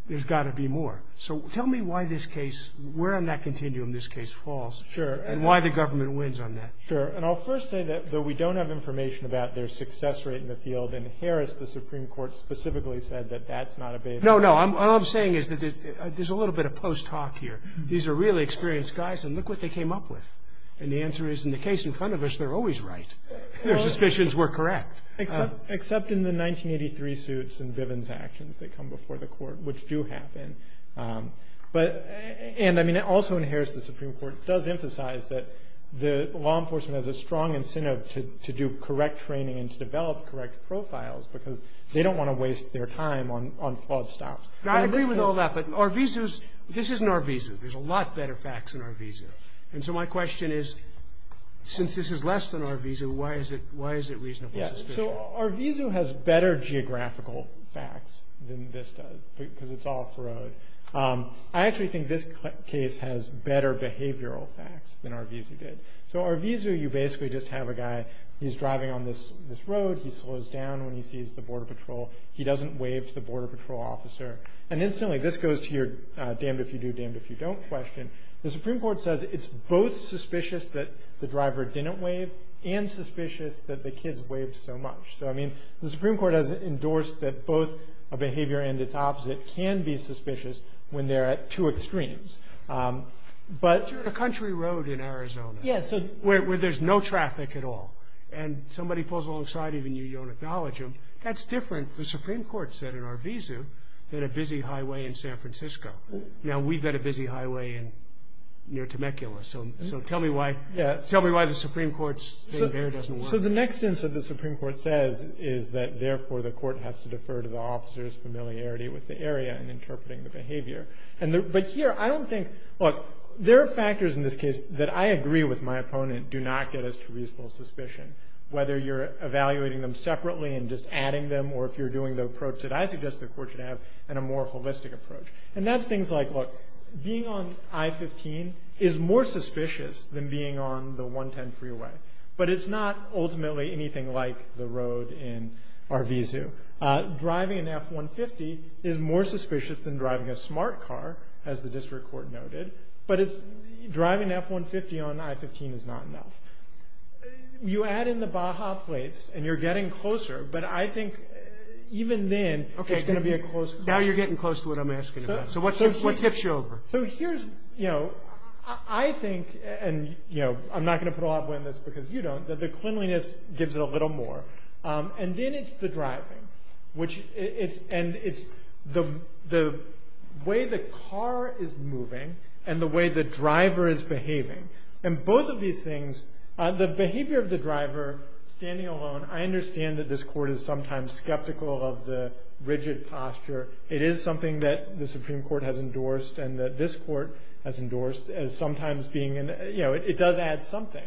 There's got to be more. So tell me why this case – where in that continuum this case falls and why the government wins on that. Sure. And I'll first say that though we don't have information about their success rate in the field, in Harris the Supreme Court specifically said that that's not a basis. No, no. All I'm saying is that there's a little bit of post hoc here. These are really experienced guys, and look what they came up with. And the answer is in the case in front of us, they're always right. Their suspicions were correct. Except in the 1983 suits and Bivens actions that come before the court, which do happen. And, I mean, also in Harris the Supreme Court does emphasize that the law enforcement has a strong incentive to do correct training and to develop correct profiles because they don't want to waste their time on false stops. I agree with all that, but Arvizo's – this isn't Arvizo. There's a lot better facts in Arvizo. And so my question is, since this is less than Arvizo, why is it reasonably suspicious? So Arvizo has better geographical facts than this does because it's off the road. I actually think this case has better behavioral facts than Arvizo did. So Arvizo, you basically just have a guy. He's driving on this road. He slows down when he sees the border patrol. He doesn't wave to the border patrol officer. And instantly this goes to your damned if you do, damned if you don't question. The Supreme Court says it's both suspicious that the driver didn't wave and suspicious that the kids waved so much. So, I mean, the Supreme Court has endorsed that both a behavior and its opposite can be suspicious when they're at two extremes. But – It's a country road in Arizona where there's no traffic at all. And somebody pulls alongside of you and you don't acknowledge them. That's different, the Supreme Court said in Arvizo, than a busy highway in San Francisco. Now we've got a busy highway near Temecula. So tell me why the Supreme Court's behavior doesn't work. So the next instance that the Supreme Court says is that, therefore, the court has to defer to the officer's familiarity with the area in interpreting the behavior. But here I don't think – look, there are factors in this case that I agree with my opponent do not get us to reasonable suspicion, whether you're evaluating them separately and just adding them or if you're doing the approach that I suggest the court should have and a more holistic approach. And that's things like, look, being on I-15 is more suspicious than being on the 110 freeway. But it's not ultimately anything like the road in Arvizo. Driving an F-150 is more suspicious than driving a smart car, as the district court noted. But it's – driving an F-150 on I-15 is not enough. You add in the Baja place and you're getting closer, but I think even then there's going to be a close – Now you're getting close to what I'm asking about. So what tips you over? So here's – I think, and I'm not going to put a lot of weight on this because you don't, that the cleanliness gives it a little more. And then it's the driving, which – and it's the way the car is moving and the way the driver is behaving. And both of these things – the behavior of the driver standing alone, I understand that this court is sometimes skeptical of the rigid posture. It is something that the Supreme Court has endorsed and that this court has endorsed as sometimes being in – you know, it does add something.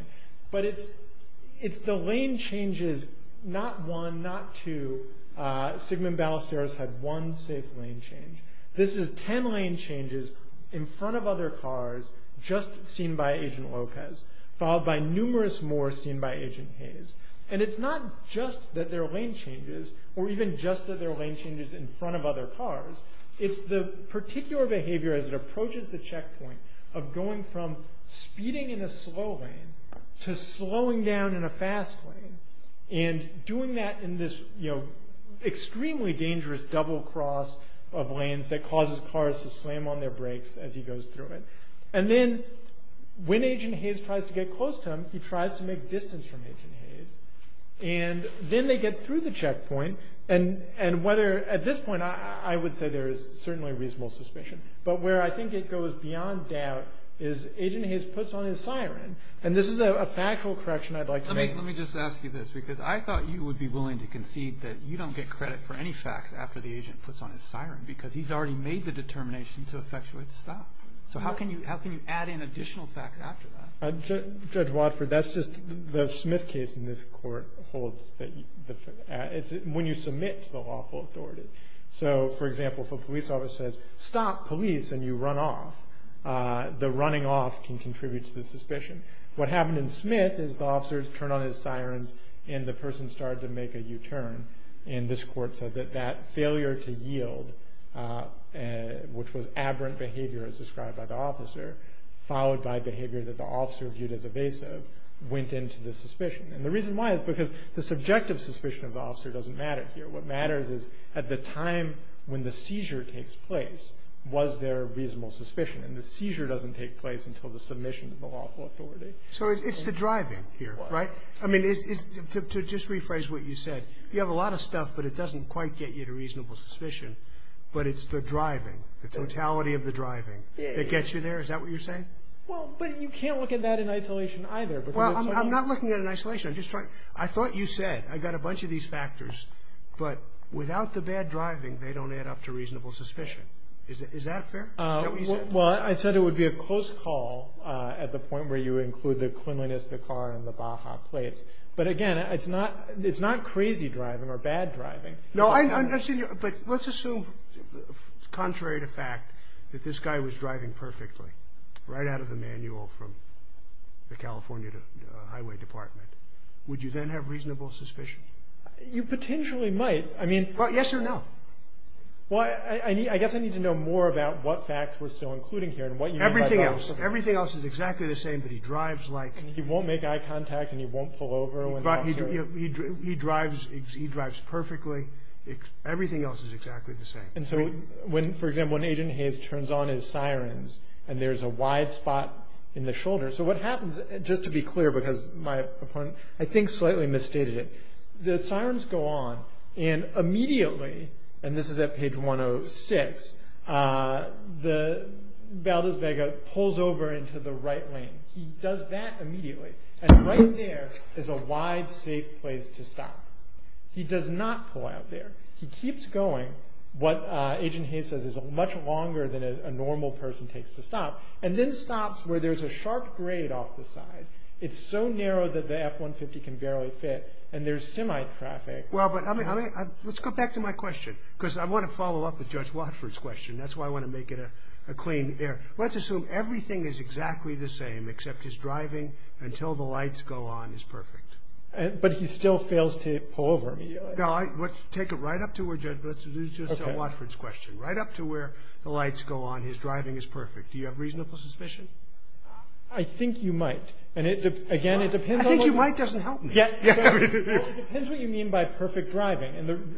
But it's the lane changes, not one, not two. Sigmund Ballesteros had one safe lane change. This is 10 lane changes in front of other cars just seen by Agent Lopez, followed by numerous more seen by Agent Hayes. And it's not just that there are lane changes or even just that there are lane changes in front of other cars. It's the particular behavior as it approaches the checkpoint of going from speeding in a slow lane to slowing down in a fast lane and doing that in this, you know, extremely dangerous double cross of lanes that causes cars to slam on their brakes as he goes through it. And then when Agent Hayes tries to get close to him, he tries to make distance from Agent Hayes. And then they get through the checkpoint. And at this point I would say there is certainly reasonable suspicion. But where I think it goes beyond doubt is Agent Hayes puts on his siren. And this is a factual correction I'd like to make. Let me just ask you this because I thought you would be willing to concede that you don't get credit for any fact after the agent puts on his siren because he's already made the determination to effectuate the stop. So how can you add in additional facts after that? Judge Watford, that's just the Smith case in this court holds. It's when you submit to the lawful authority. So, for example, if a police officer says, stop police and you run off, the running off can contribute to the suspicion. What happened in Smith is the officers turned on his siren and the person started to make a U-turn. And this court said that that failure to yield, which was aberrant behavior as described by the officer, followed by behavior that the officer viewed as evasive went into the suspicion. And the reason why is because the subjective suspicion of the officer doesn't matter here. What matters is at the time when the seizure takes place, was there reasonable suspicion? And the seizure doesn't take place until the submission of the lawful authority. So it's the driving here, right? I mean, to just rephrase what you said, you have a lot of stuff but it doesn't quite get you to reasonable suspicion. But it's the driving, the totality of the driving that gets you there. Is that what you're saying? Well, but you can't look at that in isolation either. Well, I'm not looking at it in isolation. I thought you said, I've got a bunch of these factors, but without the bad driving, they don't add up to reasonable suspicion. Is that fair? Well, I said it would be a close call at the point where you include the criminalistic car in the Baja case. But again, it's not crazy driving or bad driving. But let's assume, contrary to fact, that this guy was driving perfectly, right out of the manual from the California Highway Department. Would you then have reasonable suspicion? You potentially might. Yes or no? Well, I guess I need to know more about what facts we're still including here. Everything else. Everything else is exactly the same, but he drives like... He won't make eye contact and he won't pull over. He drives perfectly. Everything else is exactly the same. And so, for example, an agent of his turns on his sirens and there's a wide spot in the shoulder. So what happens, just to be clear because my opponent I think slightly misstated it, the sirens go on and immediately, and this is at page 106, Valdez Vega pulls over into the right lane. He does that immediately. And right there is a wide, safe place to stop. He does not pull out there. He keeps going, what Agent Hayes says is much longer than a normal person takes to stop, and then stops where there's a sharp grade off the side. It's so narrow that the F-150 can barely fit and there's semi-traffic. Well, but let's go back to my question because I want to follow up with Judge Watford's question. That's why I want to make it a clean air. Let's assume everything is exactly the same except his driving until the lights go on is perfect. But he still fails to pull over. Now, let's take it right up to where Judge Watford's question, right up to where the lights go on, his driving is perfect. Do you have reasonable suspicion? I think you might. I think you might doesn't help me. It depends what you mean by perfect driving.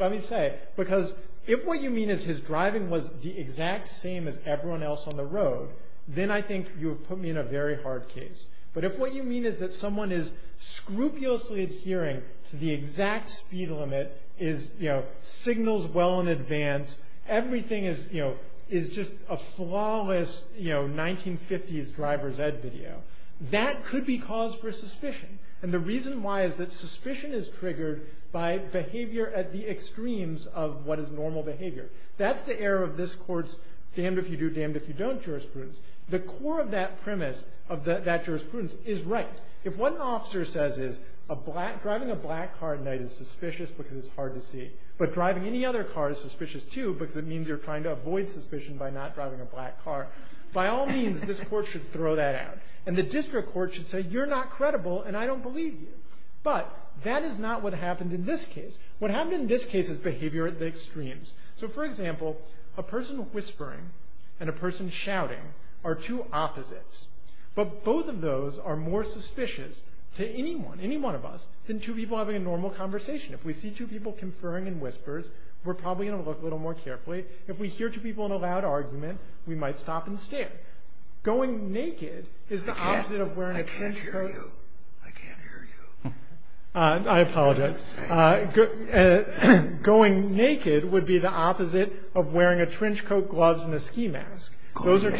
Let me say, because if what you mean is his driving was the exact same as everyone else on the road, then I think you would put me in a very hard case. But if what you mean is that someone is scrupulously adhering to the exact speed limit, signals well in advance, everything is just a flawless 1950s driver's ed video, that could be cause for suspicion. And the reason why is that suspicion is triggered by behavior at the extremes of what is normal behavior. That's the error of this court's damned if you do, damned if you don't jurisprudence. The core of that premise of that jurisprudence is right. If one officer says driving a black car at night is suspicious because it's hard to see, but driving any other car is suspicious too because it means you're trying to avoid suspicion by not driving a black car, by all means, this court should throw that out. And the district court should say you're not credible and I don't believe you. But that is not what happened in this case. What happened in this case is behavior at the extremes. So, for example, a person whispering and a person shouting are two opposites. But both of those are more suspicious to anyone, any one of us, than two people having a normal conversation. If we see two people conferring in whispers, we're probably going to look a little more carefully. If we hear two people in a loud argument, we might stop and stare. Going naked is the opposite of wearing a trench coat. I can't hear you. I can't hear you. I apologize. Going naked would be the opposite of wearing a trench coat, gloves, and a ski mask. Those are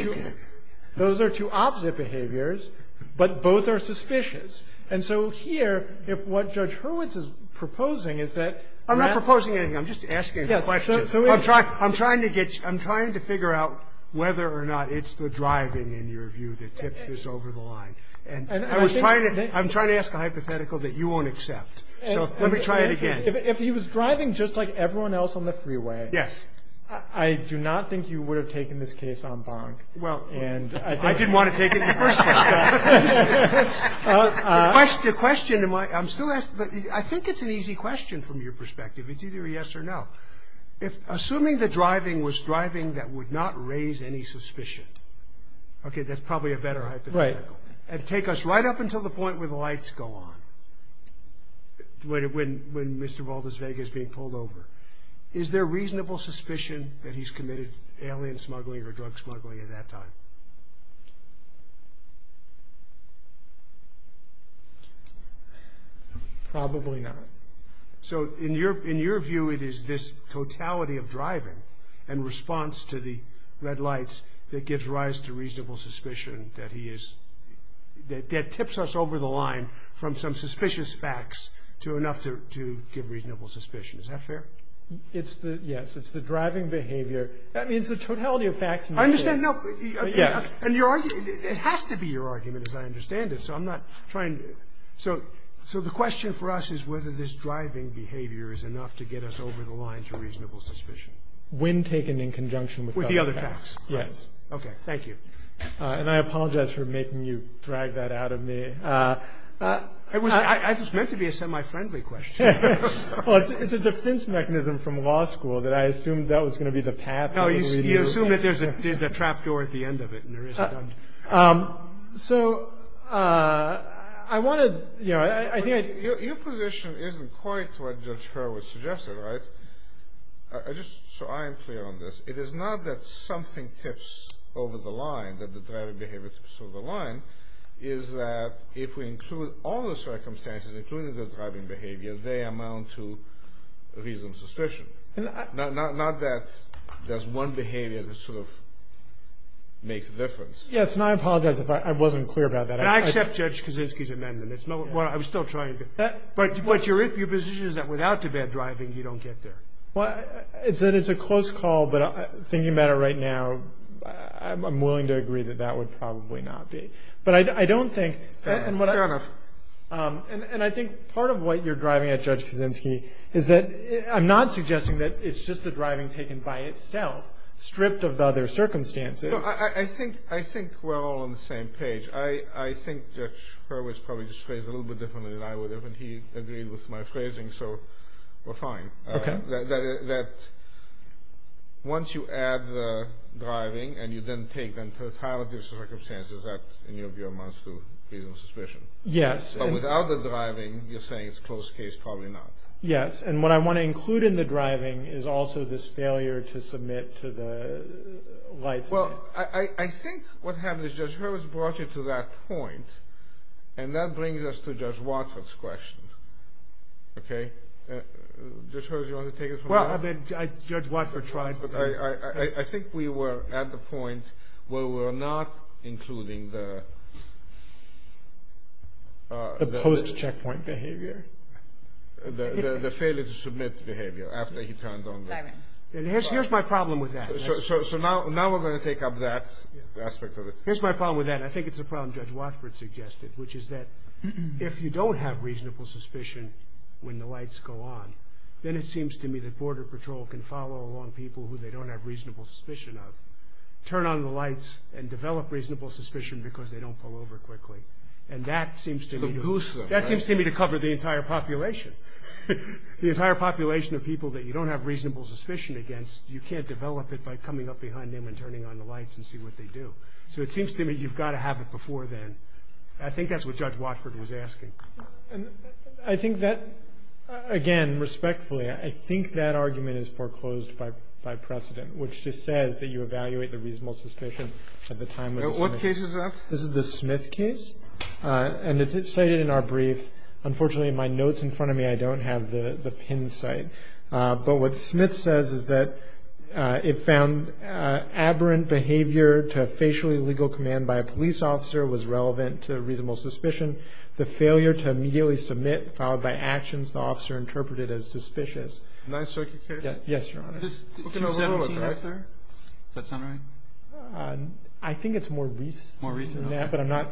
two opposite behaviors, but both are suspicious. And so here, if what Judge Hurwitz is proposing is that. I'm not proposing anything. I'm just asking a question. I'm trying to figure out whether or not it's the driving, in your view, that tips this over the line. And I'm trying to ask a hypothetical that you won't accept. So let me try it again. If he was driving just like everyone else on the freeway. Yes. I do not think you would have taken this case en banc. Well, I didn't want to take it in the first place. The question in my. I'm still asking. I think it's an easy question from your perspective. It's either a yes or no. Assuming the driving was driving that would not raise any suspicion. Okay, that's probably a better hypothetical. And take us right up until the point where the lights go on. When Mr. Valdez Vega is being pulled over. Is there reasonable suspicion that he's committed alien smuggling or drug smuggling at that time? Probably not. So in your view, it is this totality of driving and response to the red lights that gives rise to reasonable suspicion that he is. That tips us over the line from some suspicious facts to enough to give reasonable suspicion. Is that fair? It's the. Yes, it's the driving behavior. That means the totality of facts. I understand. No. Yeah. And you're right. It has to be your argument, as I understand it. So I'm not trying. So. So the question for us is whether this driving behavior is enough to get us over the line to reasonable suspicion. When taken in conjunction with the other facts. Yes. Okay. Thank you. And I apologize for making you drag that out of me. I just meant to be a semi-friendly question. It's a defense mechanism from law school that I assumed that was going to be the path. You assume that there's a trapdoor at the end of it. So I wanted. Yeah. Your position isn't quite what Judge Hurrell was suggesting. Right. I just. So I'm clear on this. It is not that something tips over the line, that the driving behavior tips over the line. It is that if we include all the circumstances, including the driving behavior, they amount to reasonable suspicion. Not that there's one behavior that sort of makes a difference. Yes. And I apologize if I wasn't clear about that. I accept Judge Kaczynski's amendment. It's no. Well, I'm still trying to. But your position is that without the bad driving, you don't get there. It's a close call, but thinking about it right now, I'm willing to agree that that would probably not be. But I don't think. Fair enough. And I think part of what you're driving at, Judge Kaczynski, is that I'm not suggesting that it's just the driving taken by itself, stripped of other circumstances. I think we're all on the same page. I think Judge Hurrell was probably just phrased a little bit differently than I would have, and he agreed with my phrasing, so we're fine. Okay. That once you add the driving and you then take them to a trial of these circumstances, that in your view amounts to reasonable suspicion. Yes. But without the driving, you're saying it's a close case. Probably not. Yes. And what I want to include in the driving is also this failure to submit to the life. Well, I think what happens is Judge Hurrell has brought you to that point, and that brings us to Judge Watson's question. Okay. Judge Hurrell, do you want to take this one? Well, Judge Watford tried. I think we were at the point where we're not including the... The post-checkpoint behavior. The failure to submit behavior after he turned on the... Here's my problem with that. So now we're going to take up that aspect of it. Here's my problem with that. I think it's a problem Judge Watford suggested, which is that if you don't have reasonable suspicion when the lights go on, then it seems to me that Border Patrol can follow along people who they don't have reasonable suspicion of, turn on the lights, and develop reasonable suspicion because they don't pull over quickly. And that seems to be... It's a boost. That seems to me to cover the entire population. The entire population of people that you don't have reasonable suspicion against, you can't develop it by coming up behind them and turning on the lights and see what they do. So it seems to me you've got to have it before then. I think that's what Judge Watford was asking. I think that... Again, respectfully, I think that argument is foreclosed by precedent, which just says that you evaluate the reasonable suspicion at the time... What case is that? This is the Smith case. And it's cited in our brief. Unfortunately, my note's in front of me. I don't have the pin site. But what Smith says is that it found aberrant behavior to a facially illegal command by a police officer was relevant to reasonable suspicion. The failure to immediately submit, followed by actions the officer interpreted as suspicious. Can I search the case? Yes, Your Honor. Just looking over the whole thing. Does that sound right? I think it's more recent than that, but I'm not...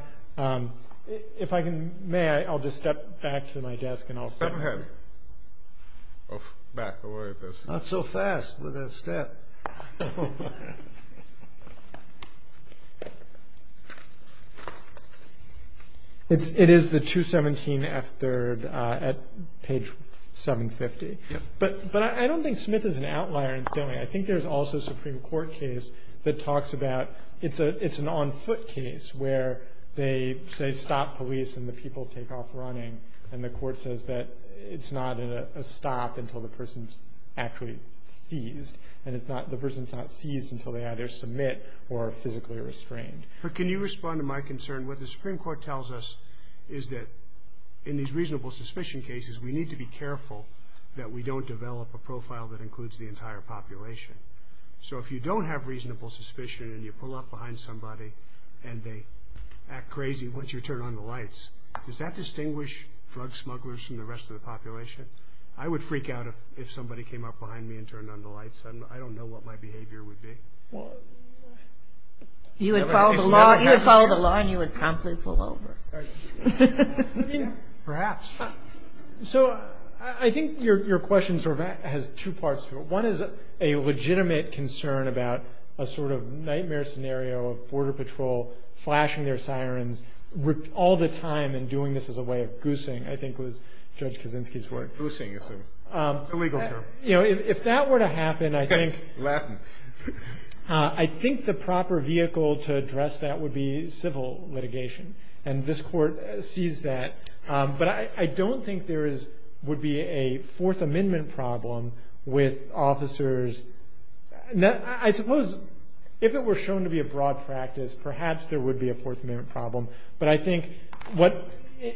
If I can... May I? I'll just step back to my desk and I'll... Go ahead. Not so fast with that step. It is the 217F3rd at page 750. But I don't think Smith is an outlier. I think there's also a Supreme Court case that talks about... It's an on-foot case where they say stop police and the people take off running. And the court says that it's not a stop until the person's actually seized. And the person's not seized until they either submit or are physically restrained. But can you respond to my concern? What the Supreme Court tells us is that in these reasonable suspicion cases, we need to be careful that we don't develop a profile that includes the entire population. So if you don't have reasonable suspicion and you pull up behind somebody and they act crazy, once you turn on the lights, does that distinguish drug smugglers from the rest of the population? I would freak out if somebody came up behind me and turned on the lights. I don't know what my behavior would be. You would follow the law and you would promptly pull over. Perhaps. So I think your question sort of has two parts to it. One is a legitimate concern about a sort of nightmare scenario of Border Patrol flashing their sirens all the time and doing this as a way of goosing, I think was Judge Kaczynski's word. Goosing, illegal term. You know, if that were to happen, I think the proper vehicle to address that would be civil litigation. And this court sees that. But I don't think there would be a Fourth Amendment problem with officers. I suppose if it were shown to be a broad practice, perhaps there would be a Fourth Amendment problem. But I think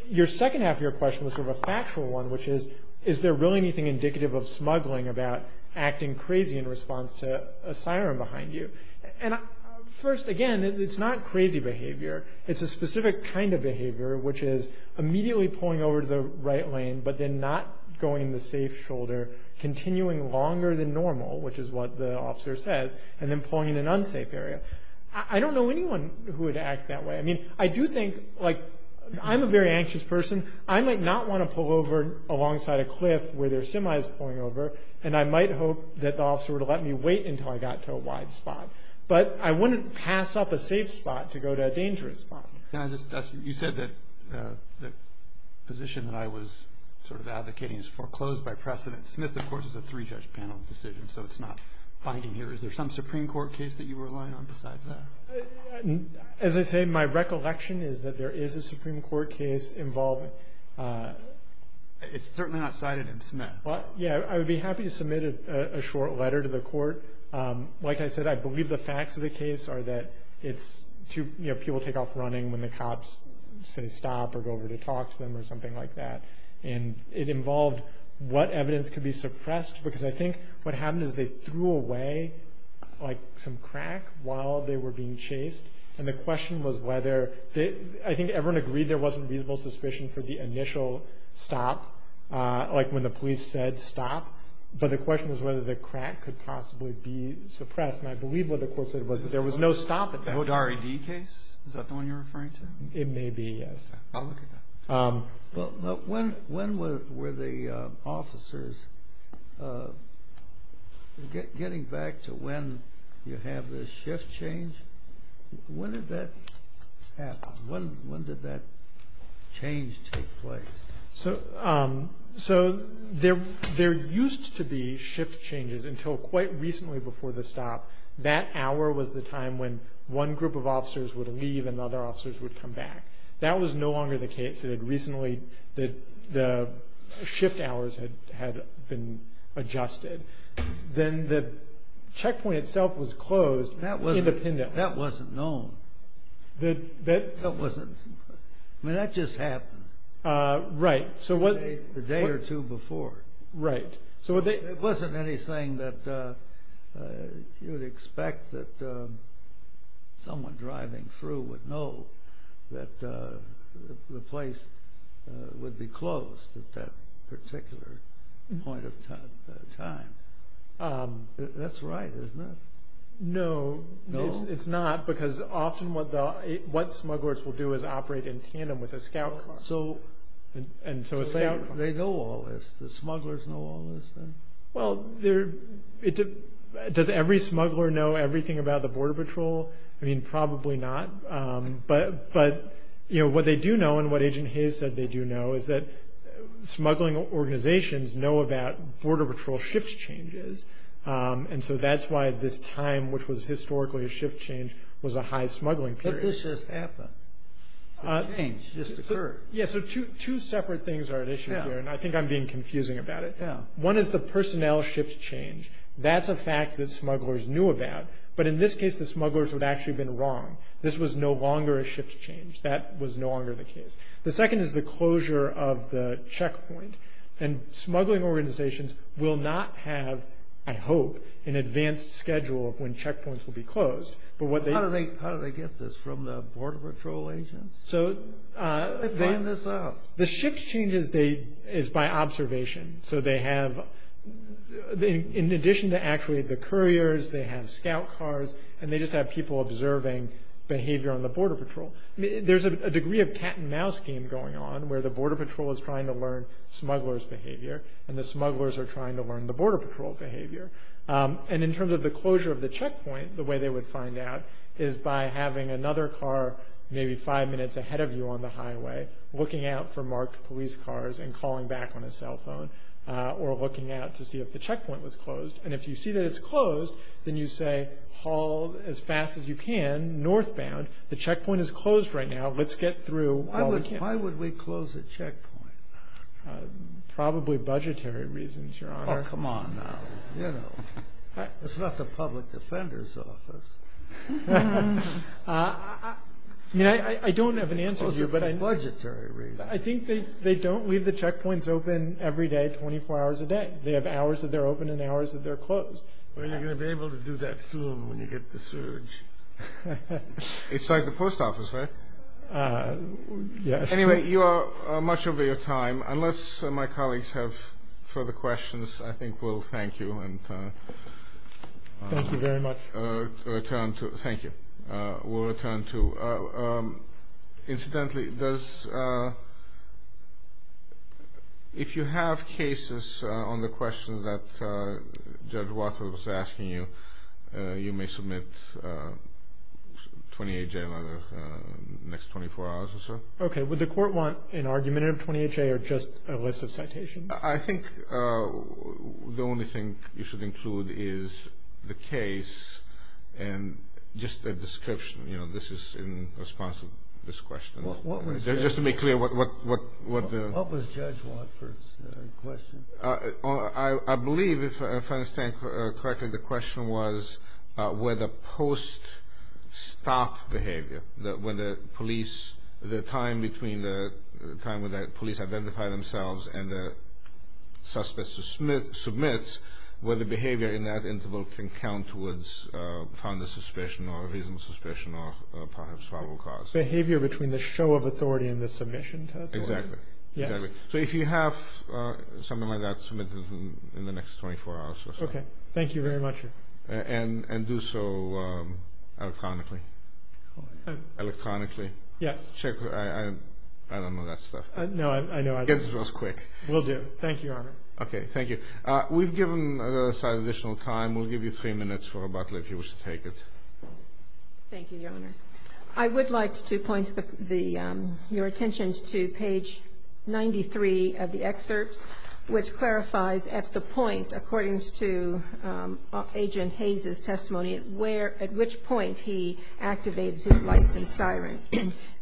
your second half of your question was sort of a factual one, which is, is there really anything indicative of smuggling about acting crazy in response to a siren behind you? And first, again, it's not crazy behavior. It's a specific kind of behavior, which is immediately pulling over to the right lane, but then not going the safe shoulder, continuing longer than normal, which is what the officer said, and then pulling in an unsafe area. I don't know anyone who would act that way. I mean, I do think, like, I'm a very anxious person. I might not want to pull over alongside a cliff where there are semis pulling over, and I might hope that the officer would let me wait until I got to a wide spot. But I wouldn't pass up a safe spot to go to a dangerous spot. You said that the position that I was sort of advocating is foreclosed by precedent. Smith, of course, is a three-judge panel decision, so it's not binding here. Is there some Supreme Court case that you were relying on besides that? As I said, my recollection is that there is a Supreme Court case involved. It's certainly not cited in Smith. Yeah, I would be happy to submit a short letter to the court. Like I said, I believe the facts of the case are that people take off running when the cops say stop or go over to talk to them or something like that. And it involved what evidence could be suppressed, because I think what happened is they threw away, like, some crack while they were being chased. And the question was whether – I think everyone agreed there wasn't reasonable suspicion for the initial stop, like when the police said stop. But the question was whether the crack could possibly be suppressed. And I believe what the court said was that there was no stop at that point. Was it an R.E.D. case? Is that the one you're referring to? It may be, yes. When were the officers – getting back to when you have this shift change, when did that happen? When did that change take place? So there used to be shift changes until quite recently before the stop. That hour was the time when one group of officers would leave and other officers would come back. That was no longer the case. It had recently – the shift hours had been adjusted. Then the checkpoint itself was closed independently. That wasn't known. That wasn't – that just happened. Right. The day or two before. Right. So it wasn't anything that you would expect that someone driving through would know, that the place would be closed at that particular point of time. That's right, isn't it? No, it's not, because often what smugglers will do is operate in tandem with a scout car. So they know all this? The smugglers know all this? Well, does every smuggler know everything about the Border Patrol? I mean, probably not. But what they do know, and what Agent Hayes said they do know, is that smuggling organizations know about Border Patrol shift changes. So that's why this time, which was historically a shift change, was a high smuggling period. Did this just happen? It changed. This occurred. Yeah, so two separate things are at issue here, and I think I'm being confusing about it. Yeah. One is the personnel shift change. That's a fact that smugglers knew about. But in this case, the smugglers would actually have been wrong. This was no longer a shift change. That was no longer the case. The second is the closure of the checkpoint. And smuggling organizations will not have, I hope, an advanced schedule when checkpoints will be closed. How did they get this, from the Border Patrol agents? They planned this out. The shift change is by observation. So they have, in addition to actually the couriers, they have scout cars, and they just have people observing behavior on the Border Patrol. There's a degree of cat-and-mouse game going on, where the Border Patrol is trying to learn smugglers' behavior, and the smugglers are trying to learn the Border Patrol behavior. And in terms of the closure of the checkpoint, the way they would find out is by having another car maybe five minutes ahead of you on the highway, looking out for marked police cars and calling back on a cell phone or looking out to see if the checkpoint was closed. And if you see that it's closed, then you say, haul as fast as you can northbound. The checkpoint is closed right now. Let's get through. Why would they close a checkpoint? Probably budgetary reasons, Your Honor. Oh, come on now. It's not the public defender's office. I don't have an answer here, but I think they don't leave the checkpoints open every day, 24 hours a day. They have hours that they're open and hours that they're closed. Well, you're going to be able to do that soon when you get the surge. It's like the post office, right? Yes. Anyway, you are much over your time. Unless my colleagues have further questions, I think we'll thank you. Thank you very much. Thank you. We'll return to. Incidentally, if you have cases on the questions that Judge Walker was asking you, you may submit 28-J in the next 24 hours or so. Okay. Would the court want an argumentative 28-J or just a list of citations? I think the only thing you should include is the case and just a description. This is in response to this question. Just to be clear, what the- What was Judge Walker's question? I believe, if I understand correctly, the question was whether post-stop behavior, when the police, the time between the time when the police identify themselves and the suspect submits, whether behavior in that interval can count towards fondness suspicion or reasonable suspicion or perhaps probable cause. Behavior between the show of authority and the submission. Exactly. So if you have something like that, submit it in the next 24 hours or so. Okay. Thank you very much. And do so chronically. Electronically? Yes. I don't know that stuff. No, I know. I guess it was quick. We'll do. Thank you, Your Honor. Okay. Thank you. We've given this additional time. We'll give you three minutes for rebuttal if you wish to take it. Thank you, Your Honor. I would like to point your attention to page 93 of the excerpt, which clarifies at the point,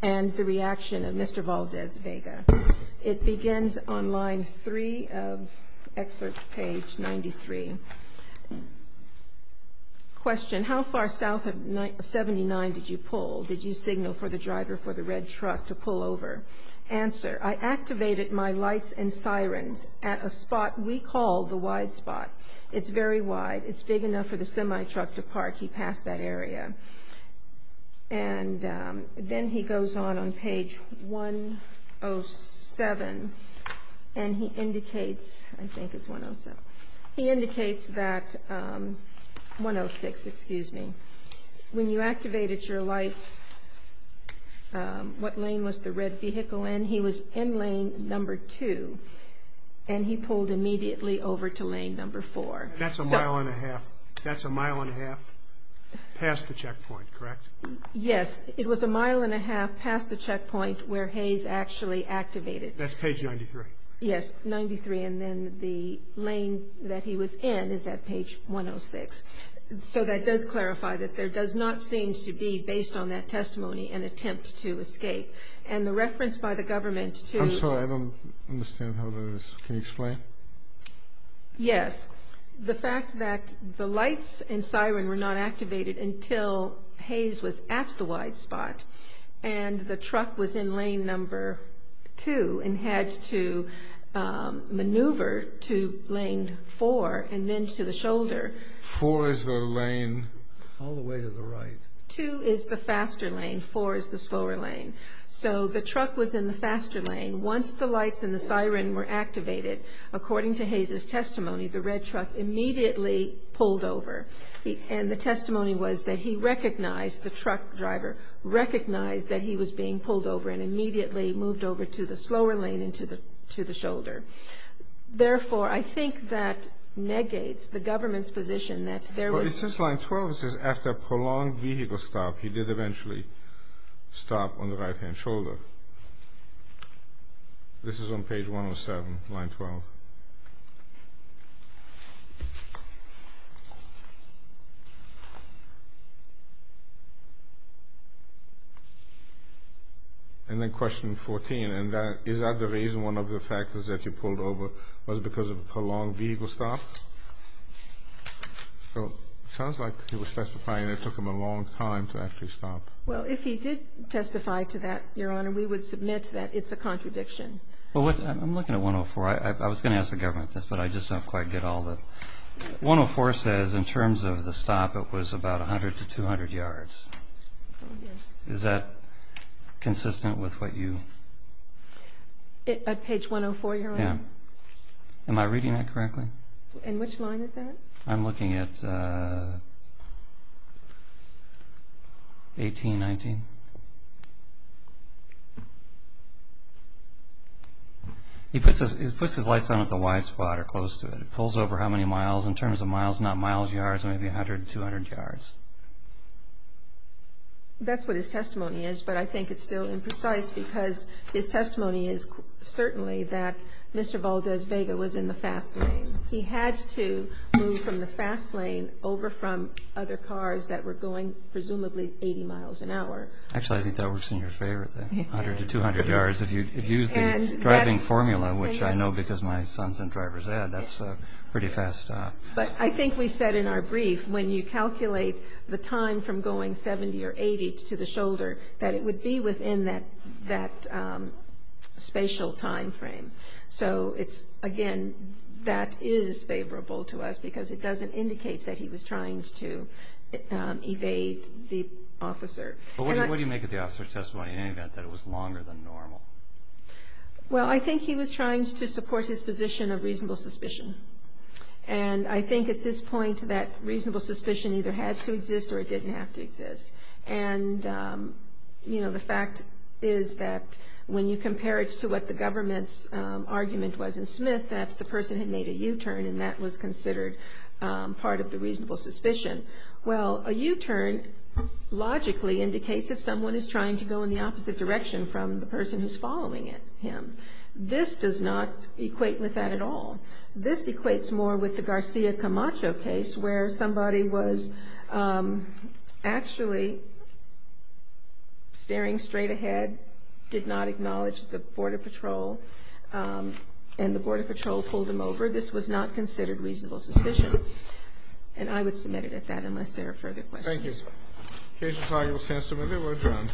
and the reaction of Mr. Valdez Vega. It begins on line 3 of excerpt page 93. Question. How far south of 79 did you pull? Did you signal for the driver for the red truck to pull over? Answer. I activated my lights and sirens at a spot we call the wide spot. It's very wide. It's big enough for the semi-truck to park. He passed that area. And then he goes on on page 107, and he indicates, I think it's 107. He indicates that, 106, excuse me, when you activated your lights, what lane was the red vehicle in? He was in lane number 2, and he pulled immediately over to lane number 4. That's a mile and a half. That's a mile and a half past the checkpoint, correct? Yes. It was a mile and a half past the checkpoint where Hayes actually activated. That's page 93. Yes, 93, and then the lane that he was in is at page 106. So that does clarify that there does not seem to be, based on that testimony, an attempt to escape. And the reference by the government to – I'm sorry. I don't understand how that is. Can you explain? Yes. The fact that the lights and siren were not activated until Hayes was at the white spot, and the truck was in lane number 2 and had to maneuver to lane 4 and then to the shoulder. 4 is the lane all the way to the right. 2 is the faster lane. 4 is the slower lane. So the truck was in the faster lane. Once the lights and the siren were activated, according to Hayes' testimony, the red truck immediately pulled over. And the testimony was that he recognized, the truck driver recognized that he was being pulled over and immediately moved over to the slower lane and to the shoulder. Therefore, I think that negates the government's position that there was – Since line 12 says, after a prolonged vehicle stop, he did eventually stop on the right-hand shoulder. This is on page 107, line 12. And then question 14, is that the reason one of the factors that he pulled over was because of prolonged vehicle stops? So it sounds like he was testifying that it took him a long time to actually stop. Well, if he did testify to that, Your Honor, we would submit that it's a contradiction. I'm looking at 104. I was going to ask the government this, but I just don't quite get all the – 104 says in terms of the stop, it was about 100 to 200 yards. Is that consistent with what you – At page 104, Your Honor? Yeah. Am I reading that correctly? And which line is that? I'm looking at 1819. It puts his lights on at the white spot or close to it. It pulls over how many miles in terms of miles, not miles, yards, maybe 100 to 200 yards. That's what his testimony is, but I think it's still imprecise because his testimony is certainly that Mr. Valdez Vega was in the fast lane. He had to move from the fast lane over from other cars that were going presumably 80 miles an hour. Actually, I think that was in your favor, the 100 to 200 yards. If you used the driving formula, which I know because my son's in driver's ed, that's pretty fast. But I think we said in our brief when you calculate the time from going 70 or 80 to the shoulder that it would be within that spatial time frame. So, again, that is favorable to us because it doesn't indicate that he was trying to evade the officer. What do you make of the officer's testimony in any event that it was longer than normal? Well, I think he was trying to support his position of reasonable suspicion. And I think at this point that reasonable suspicion either had to exist or it didn't have to exist. And, you know, the fact is that when you compare it to what the government's argument was in Smith, that the person had made a U-turn and that was considered part of the reasonable suspicion. Well, a U-turn logically indicates that someone is trying to go in the opposite direction from the person who's following him. This does not equate with that at all. This equates more with the Garcia Camacho case where somebody was actually staring straight ahead, did not acknowledge the Border Patrol, and the Border Patrol pulled him over. This was not considered reasonable suspicion. And I would submit it at that unless there are further questions. Thank you. Here's your final testimony. We're adjourned.